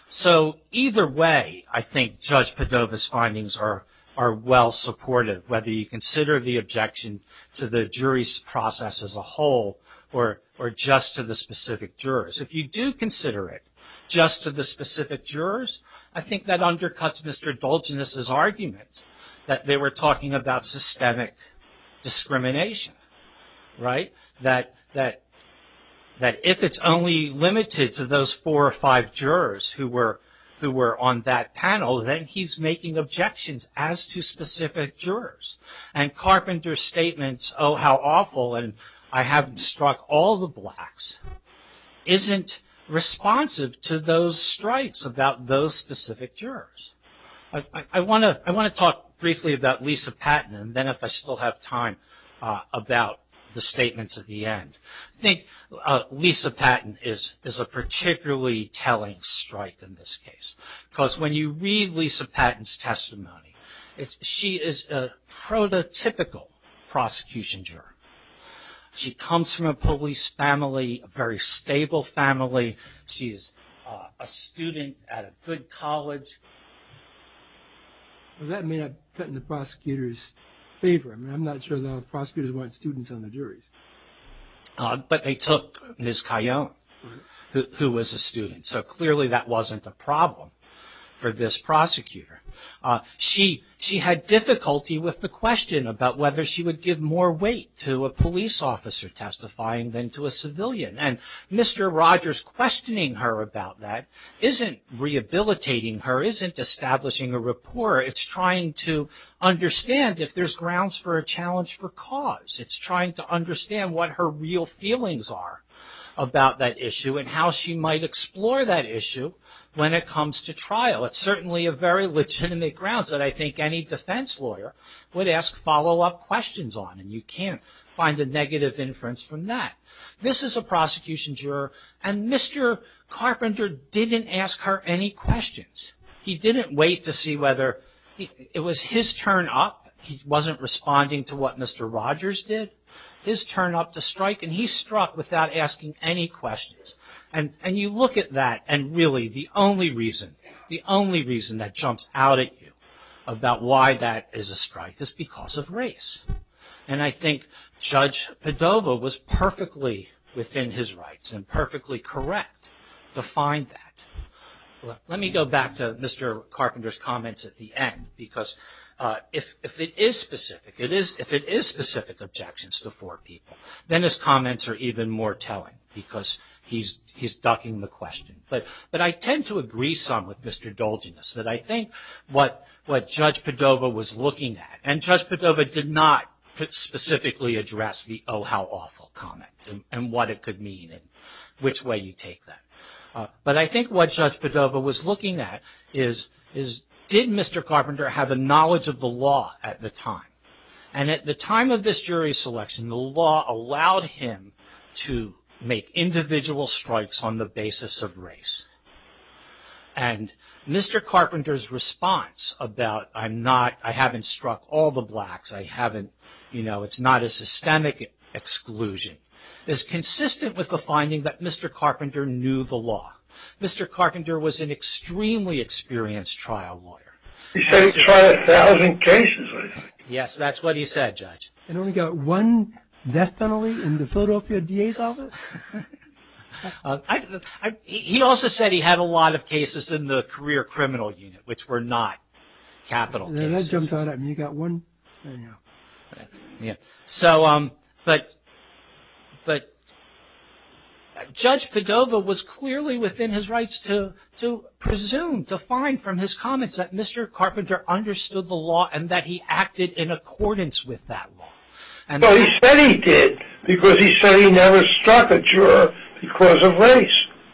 So either way, I think Judge Padova's findings are well supportive. Whether you consider the objection to the jury's process as a whole, or just to the specific jurors. If you do consider it just to the specific jurors, I think that undercuts Mr. Dolginus's argument that they were talking about systemic discrimination. Right? That if it's only limited to those four or five jurors who were on that panel, then he's making objections as to specific jurors. And Carpenter's statements, oh how awful, and I haven't struck all the blacks, isn't responsive to those strikes about those specific jurors. I want to talk briefly about Lisa Patton, and then if I still have time, about the statements at the end. I think Lisa Patton is is a particularly telling strike in this case. Because when you read Lisa Patton's testimony, she is a prototypical prosecution juror. She comes from a police family, a very stable family. She's a student at a good college. Well, that may not cut in the prosecutor's favor. I mean, I'm not sure the prosecutors want students on the jury. But they took Ms. Cayonne, who was a student. So clearly that wasn't a problem for this prosecutor. She had difficulty with the question about whether she would give more weight to a police officer testifying than to a civilian. And Mr. Rogers questioning her about that isn't rehabilitating her, isn't establishing a rapport. It's trying to understand if there's grounds for a challenge for cause. It's trying to understand what her real feelings are about that issue, and how she might explore that issue when it comes to trial. It's certainly a very legitimate grounds that I think any defense lawyer would ask follow-up questions on, and you can't find a negative inference from that. This is a prosecution juror, and Mr. Carpenter didn't ask her any questions. He didn't wait to see whether it was his turn up. He wasn't responding to what Mr. Rogers did. His turn up to strike, and he struck without asking any questions. And you look at that, and really the only reason, the only reason that jumps out at you about why that is a strike is because of race. And I think Judge Padova was perfectly within his rights, and perfectly correct. Defined that. Let me go back to Mr. Carpenter's comments at the end, because if it is specific, it is, if it is specific objections to four people, then his comments are even more telling, because he's, he's ducking the question. But, but I tend to agree some with Mr. Dolginus, that I think what, what Judge Padova was looking at, and Judge Padova did not specifically address the oh how awful comment, and what it could mean, and which way you take that. But I think what Judge Padova was looking at is, is did Mr. Carpenter have a knowledge of the law at the time? And at the time of this jury selection, the law allowed him to make individual strikes on the basis of race. And Mr. Carpenter's response about, I'm not, I haven't struck all the blacks, I haven't, you know, it's not a systemic exclusion, is consistent with the finding that Mr. Carpenter knew the law. Mr. Carpenter was an extremely experienced trial lawyer. Yes, that's what he said, Judge. He also said he had a lot of cases in the career criminal unit, which were not capital cases. You got one? Yeah, so um, but, but Judge Padova was clearly within his rights to, to presume, to find from his comments that Mr. Carpenter understood the law, and that he acted in accordance with that law. And so he said he did, because he said he never struck a juror because of race.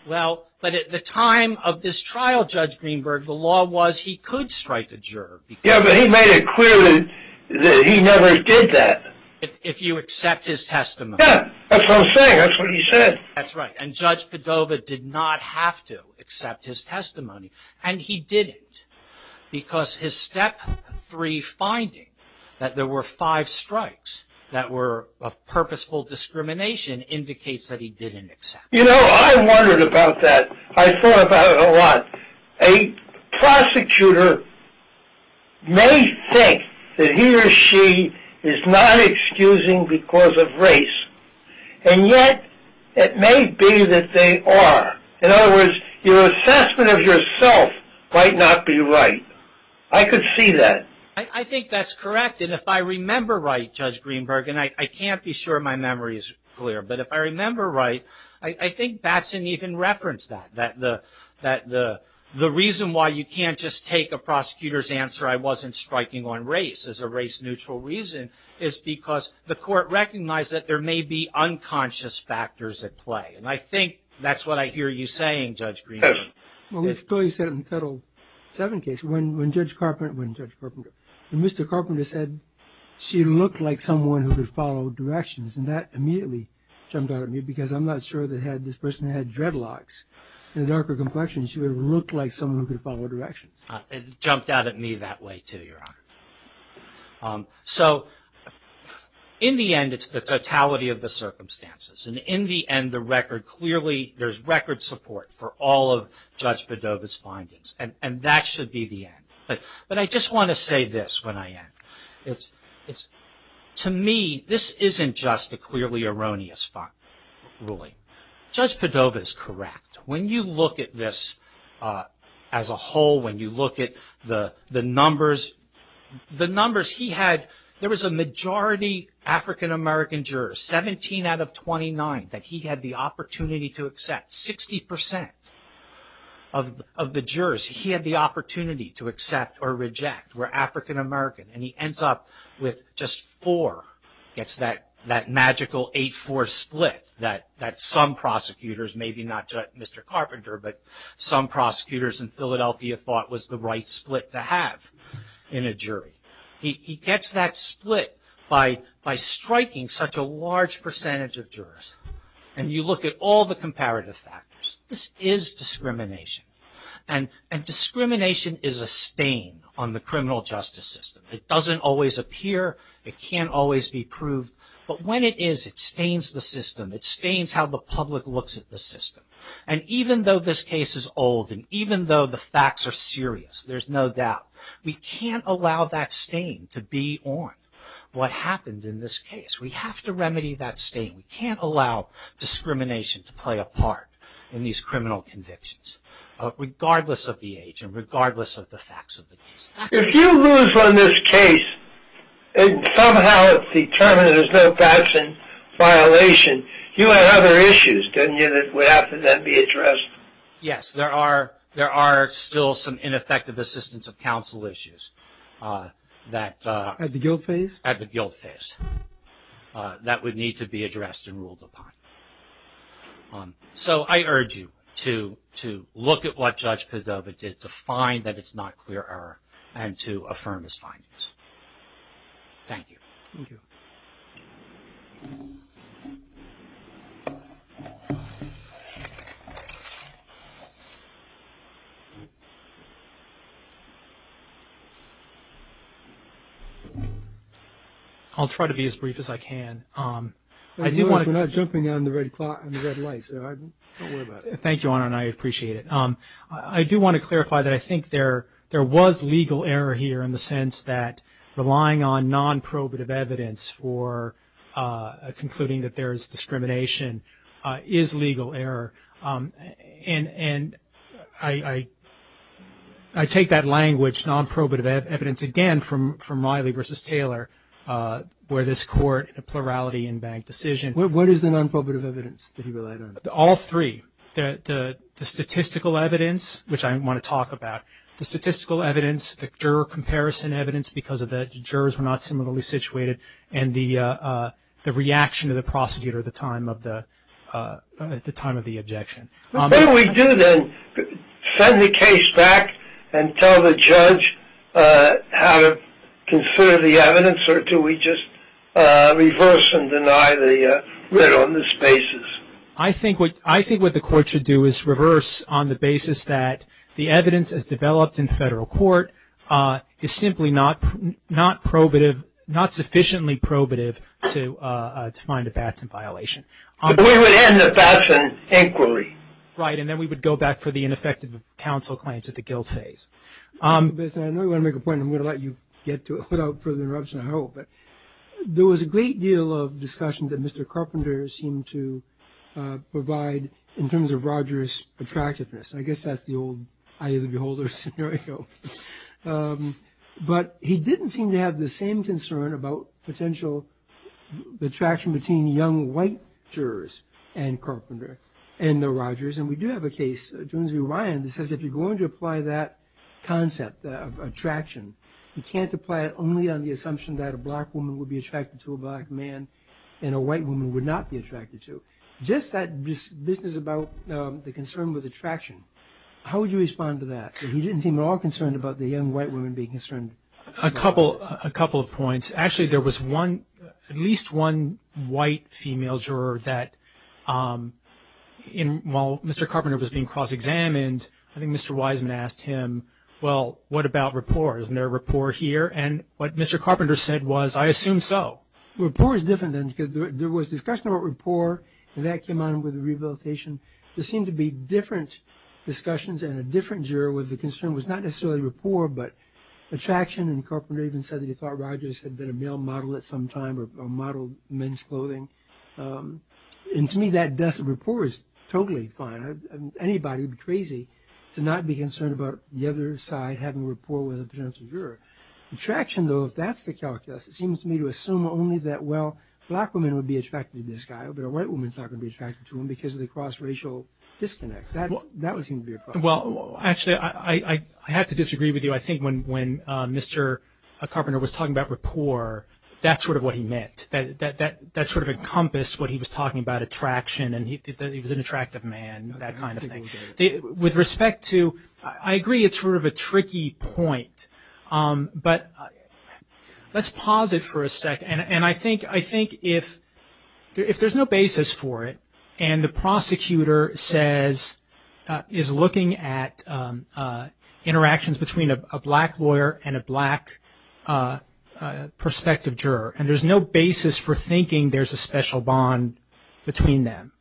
Well, but at the time of this trial, Judge Greenberg, the law was he could strike a juror. Yeah, but he made it clear that he never did that. If you accept his testimony. Yeah, that's what I'm saying, that's what he said. That's right, and Judge Padova did not have to accept his testimony, and he didn't. Because his step three finding, that there were five strikes that were a purposeful discrimination, indicates that he didn't accept. You know, I wondered about that. I thought about it a lot. A prosecutor may think that he or she is not excusing because of race, and yet it may be that they are. In other words, your assessment of yourself might not be right. I could see that. I think that's correct, and if I remember right, Judge Greenberg, and I can't be sure my memory is clear, but if I remember right, I think Batson even referenced that, that the, that the reason why you can't just take a prosecutor's answer, I wasn't striking on race, as a race-neutral reason, is because the court recognized that there may be unconscious factors at play, and I think that's what I hear you saying, Judge Greenberg. Well, we've clearly said in the Title VII case, when Judge Carpenter, when Judge Carpenter, when Mr. Carpenter said she looked like someone who could follow directions, and that immediately jumped out at me, because I'm not sure that had this person had dreadlocks, and a darker complexion, she would have looked like someone who could follow directions. It jumped out at me that way, too, Your Honor. So, in the end, it's the totality of the circumstances, and in the end, the record clearly, there's record support for all of Judge Padova's findings, and, and that should be the end, but, but I just want to say this when I end. It's, it's, to me, this isn't just a clearly erroneous ruling. Judge Padova is correct. When you look at this, as a whole, when you look at the, the numbers, the numbers he had, there was a majority African-American jurors, 17 out of 29, that he had the opportunity to accept. 60% of the jurors he had the opportunity to accept or reject were African-American, and he ends up with just four. Gets that, that magical 8-4 split that, that some prosecutors, maybe not just Mr. Carpenter, but some prosecutors in Philadelphia thought was the right split to have in a jury. He, he gets that split by, by striking such a large percentage of jurors, and you look at all the comparative factors. This is discrimination, and, and but when it is, it stains the system. It stains how the public looks at the system, and even though this case is old, and even though the facts are serious, there's no doubt, we can't allow that stain to be on what happened in this case. We have to remedy that stain. We can't allow discrimination to play a part in these criminal convictions, regardless of the age, and regardless of the facts of the case. If you lose on this case, and somehow it's determined there's no Gadsden violation, you had other issues, didn't you, that would have to then be addressed? Yes, there are, there are still some ineffective assistance of counsel issues that... At the guilt phase? At the guilt phase. That would need to be addressed and ruled upon. So, I urge you to, to look at what Judge Padova did to find that it's not clear error. And to affirm his findings. I'll try to be as brief as I can. I do want to... We're not jumping on the red light, so don't worry about it. Thank you, Honor, and I appreciate it. I do want to clarify that I think there, there was legal error here in the sense that relying on non-probative evidence for concluding that there's discrimination is legal error. And, and I, I, I take that language, non-probative evidence, again from, from Miley v. Taylor, where this court, a plurality in bank decision... What is the non-probative evidence that he relied on? All three. The, the, the statistical evidence, which I want to talk about, the statistical evidence, the juror comparison evidence, because of the jurors were not similarly situated, and the the reaction of the prosecutor at the time of the, at the time of the objection. What do we do then? Send the case back and tell the judge how to consider the evidence, or do we just reverse and deny the writ on this basis? I think what, I think what the court should do is reverse on the basis that the evidence as developed in federal court is simply not, not probative, not sufficiently probative to find a Batson violation. But we would end the Batson inquiry. Right, and then we would go back for the ineffective counsel claims at the guilt phase. Mr. Bisson, I know you want to make a point, and I'm going to let you get to it without further interruption, I hope, but there was a great deal of discussion that Mr. Carpenter seemed to provide in terms of Rogers' attractiveness. I guess that's the old eye of the beholder scenario. But he didn't seem to have the same concern about potential the attraction between young white jurors and Carpenter and the Rogers, and we do have a case, Jones v. Ryan, that says if you're going to apply that concept of attraction, you can't apply it only on the assumption that a black woman would be attracted to a black man and a white woman would not be attracted to. Just that business about the concern with attraction, how would you respond to that? He didn't seem at all concerned about the young white woman being concerned. A couple, a couple of points. Actually, there was one, at least one white female juror that in, while Mr. Carpenter was being cross-examined, I think Mr. Wiseman asked him, well, what about rapport? Isn't there a rapport here? And what Mr. Carpenter said was, I assume so. Rapport is different, then, because there was discussion about rapport, and that came on with the rehabilitation. There seemed to be different discussions, and a different juror with the concern was not necessarily rapport, but attraction, and Carpenter even said that he thought Rogers had been a male model at some time or modeled men's clothing. And to me, that dust of rapport is totally fine. Anybody would be crazy to not be concerned about the other side having rapport with a potential juror. Attraction, though, if that's the calculus, it seems to me to assume only that, well, black women would be attracted to this guy, but a white woman's not going to be attracted to him because of the cross-racial disconnect. That would seem to be a problem. Well, actually, I have to disagree with you. I think when Mr. Carpenter was talking about rapport, that's sort of what he meant. That sort of encompassed what he was talking about, attraction, and he was an attractive man, that kind of thing. With respect to, I agree, it's sort of a tricky point. But let's pause it for a second, and I think if there's no basis for it, and the prosecutor says, is looking at interactions between a black lawyer and a black prospective juror, and there's no basis for thinking there's a special bond between them,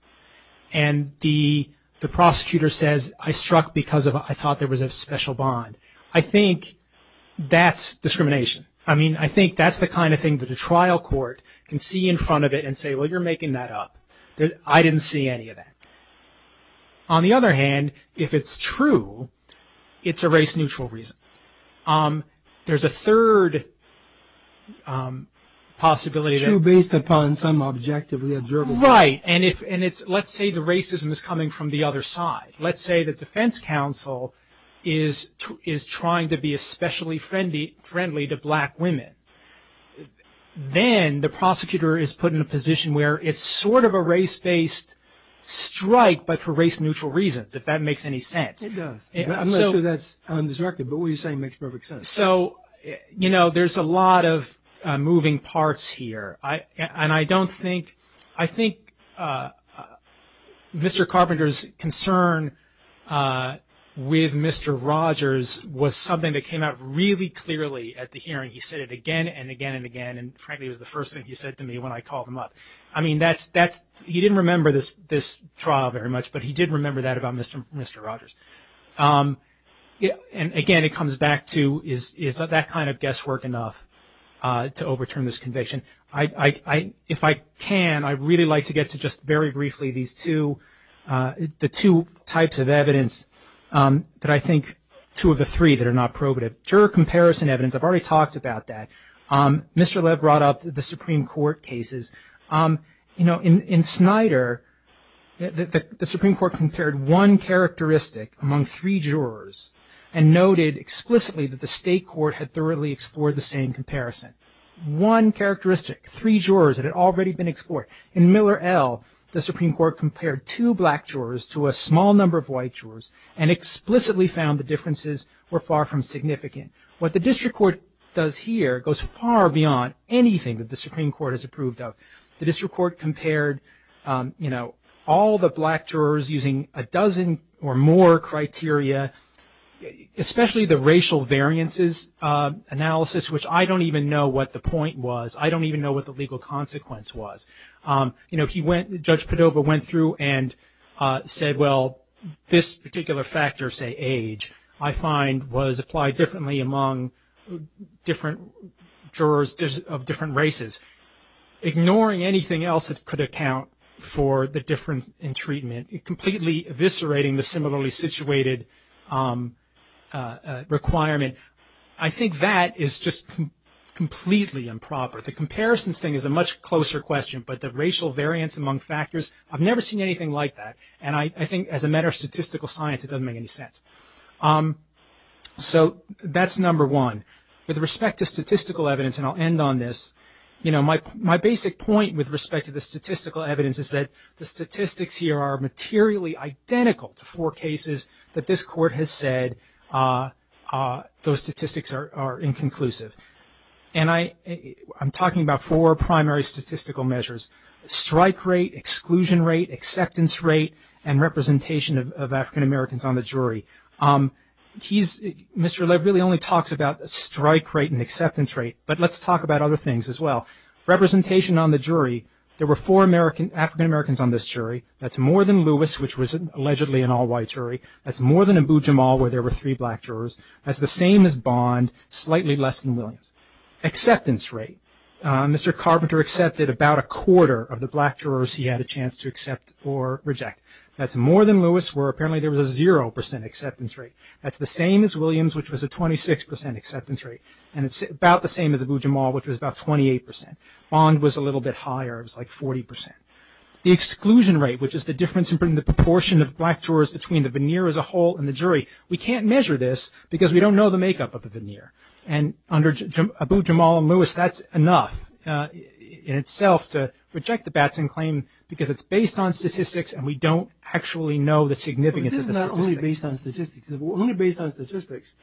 and the prosecutor says, I struck because I thought there was a special bond. I think that's discrimination. I mean, I think that's the kind of thing that a trial court can see in front of it and say, well, you're making that up. I didn't see any of that. On the other hand, if it's true, it's a race-neutral reason. There's a third possibility that... True based upon some objectively observable... Right, and if, and it's, let's say the racism is coming from the other side. Let's say the defense counsel is trying to be especially friendly to black women. Then the prosecutor is put in a position where it's sort of a race-based strike, but for race-neutral reasons, if that makes any sense. It does. I'm not sure that's undirected, but what you're saying makes perfect sense. So, you know, there's a lot of moving parts here, and I don't think, I think Mr. Carpenter's concern with Mr. Rogers was something that came out really clearly at the hearing. He said it again and again and again, and frankly was the first thing he said to me when I called him up. I mean, that's, that's, he didn't remember this, this trial very much, but he did remember that about Mr. Rogers. Yeah, and again, it comes back to, is that kind of guesswork enough to overturn this conviction? I, if I can, I'd really like to get to just very briefly these two, the two types of evidence that I think, two of the three that are not probative. Juror comparison evidence, I've already talked about that. Mr. Lev brought up the Supreme Court cases. You know, in Snyder, the Supreme Court compared one characteristic among three jurors and noted explicitly that the state court had thoroughly explored the same comparison. One characteristic, three jurors that had already been explored. In Miller L., the Supreme Court compared two black jurors to a small number of white jurors and explicitly found the differences were far from significant. What the district court does here goes far beyond anything that the Supreme Court has approved of. The district court compared, you know, all the black jurors using a dozen or more criteria, especially the racial variances analysis, which I don't even know what the point was. I don't even know what the legal consequence was. You know, he went, Judge Padova went through and said, well, this particular factor, say age, I find was applied differently among different jurors of different races. Ignoring anything else that could account for the difference in treatment, completely eviscerating the similarly situated requirement. I think that is just completely improper. The comparisons thing is a much closer question, but the racial variance among factors, I've never seen anything like that. And I think as a matter of statistical science, it doesn't make any sense. So that's number one. With respect to statistical evidence, and I'll end on this, you know, my basic point with respect to the statistical evidence is that the statistics here are materially identical to four cases that this court has said those statistics are inconclusive. And I'm talking about four primary statistical measures. Strike rate, exclusion rate, acceptance rate, and representation of African-Americans on the jury. He's, Mr. Lev really only talks about a strike rate and acceptance rate, but let's talk about other things as well. Representation on the jury. There were four African-Americans on this jury. That's more than Lewis, which was allegedly an all-white jury. That's more than Abu-Jamal, where there were three black jurors. That's the same as Bond, slightly less than Williams. Acceptance rate. Mr. Carpenter accepted about a quarter of the black jurors he had a chance to accept or reject. That's more than Lewis, where apparently there was a 0% acceptance rate. That's the same as Williams, which was a 26% acceptance rate. And it's about the same as Abu-Jamal, which was about 28%. Bond was a little bit higher. It was like 40%. The exclusion rate, which is the difference in the proportion of black jurors between the veneer as a whole and the jury. We can't measure this because we don't know the makeup of the veneer. And under Abu-Jamal and Lewis, that's enough in itself to reject the Batson claim because it's based on statistics and we don't actually know the significance of the statistics. Only based on statistics,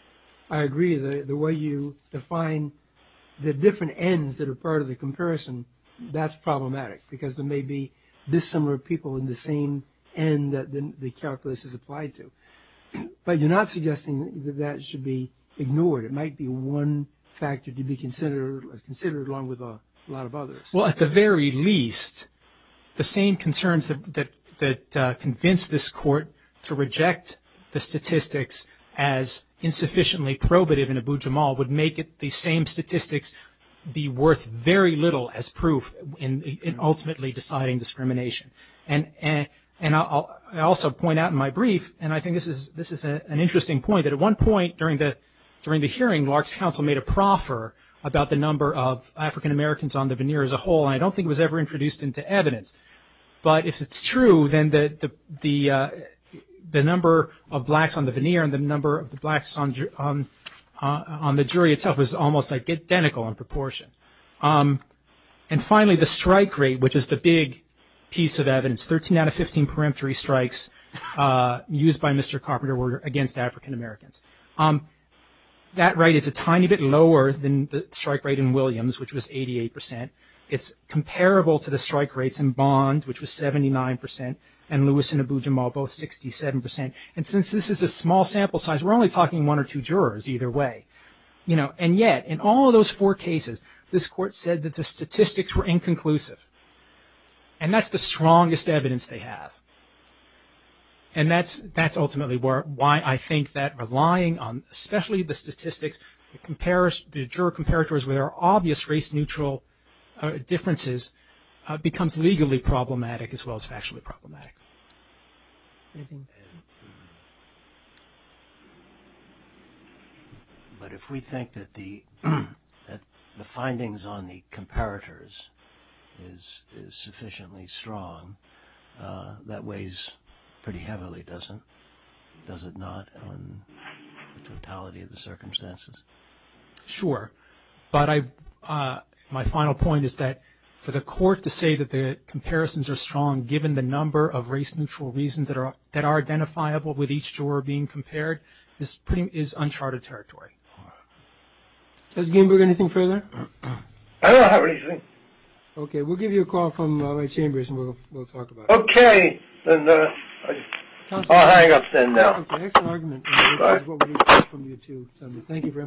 I agree the way you define the different ends that are part of the comparison, that's problematic because there may be dissimilar people in the same end that the calculus is applied to. But you're not suggesting that that should be ignored. It might be one factor to be considered along with a lot of others. Well, at the very least, the same concerns that convinced this court to reject the statistics as insufficiently probative in Abu-Jamal would make it the same statistics be worth very little as proof in ultimately deciding discrimination. And I'll also point out in my brief, and I think this is an interesting point, that at one point during the hearing, Lark's counsel made a proffer about the number of African-Americans on the veneer as a whole. I don't think it was ever introduced into evidence. But if it's true, then the the number of blacks on the veneer and the number of the blacks on the jury itself was almost identical in proportion. And finally, the strike rate, which is the big piece of evidence, 13 out of 15 peremptory strikes used by Mr. Carpenter were against African-Americans. That rate is a tiny bit lower than the strike rate in Williams, which was 88%. It's comparable to the strike rates in Bond, which was 79%, and Lewis in Abu-Jamal, both 67%. And since this is a small sample size, we're only talking one or two jurors, either way. You know, and yet in all of those four cases, this court said that the statistics were inconclusive. And that's the strongest evidence they have. And that's ultimately why I think that relying on, especially the statistics, the juror comparators, where there are obvious race-neutral differences, becomes legally problematic as well as factually problematic. But if we think that the the findings on the comparators is sufficiently strong, that weighs pretty heavily, doesn't it? Does it not, on the totality of the circumstances? Sure, but I my final point is that for the court to say that the comparisons are strong, given the number of race-neutral reasons that are that are identifiable with each juror being compared, this is uncharted territory. Judge Greenberg, anything further? I don't have anything. Okay, we'll give you a call from my chambers, and we'll talk about it. Okay, then I'll hang up then now. Thank you very much.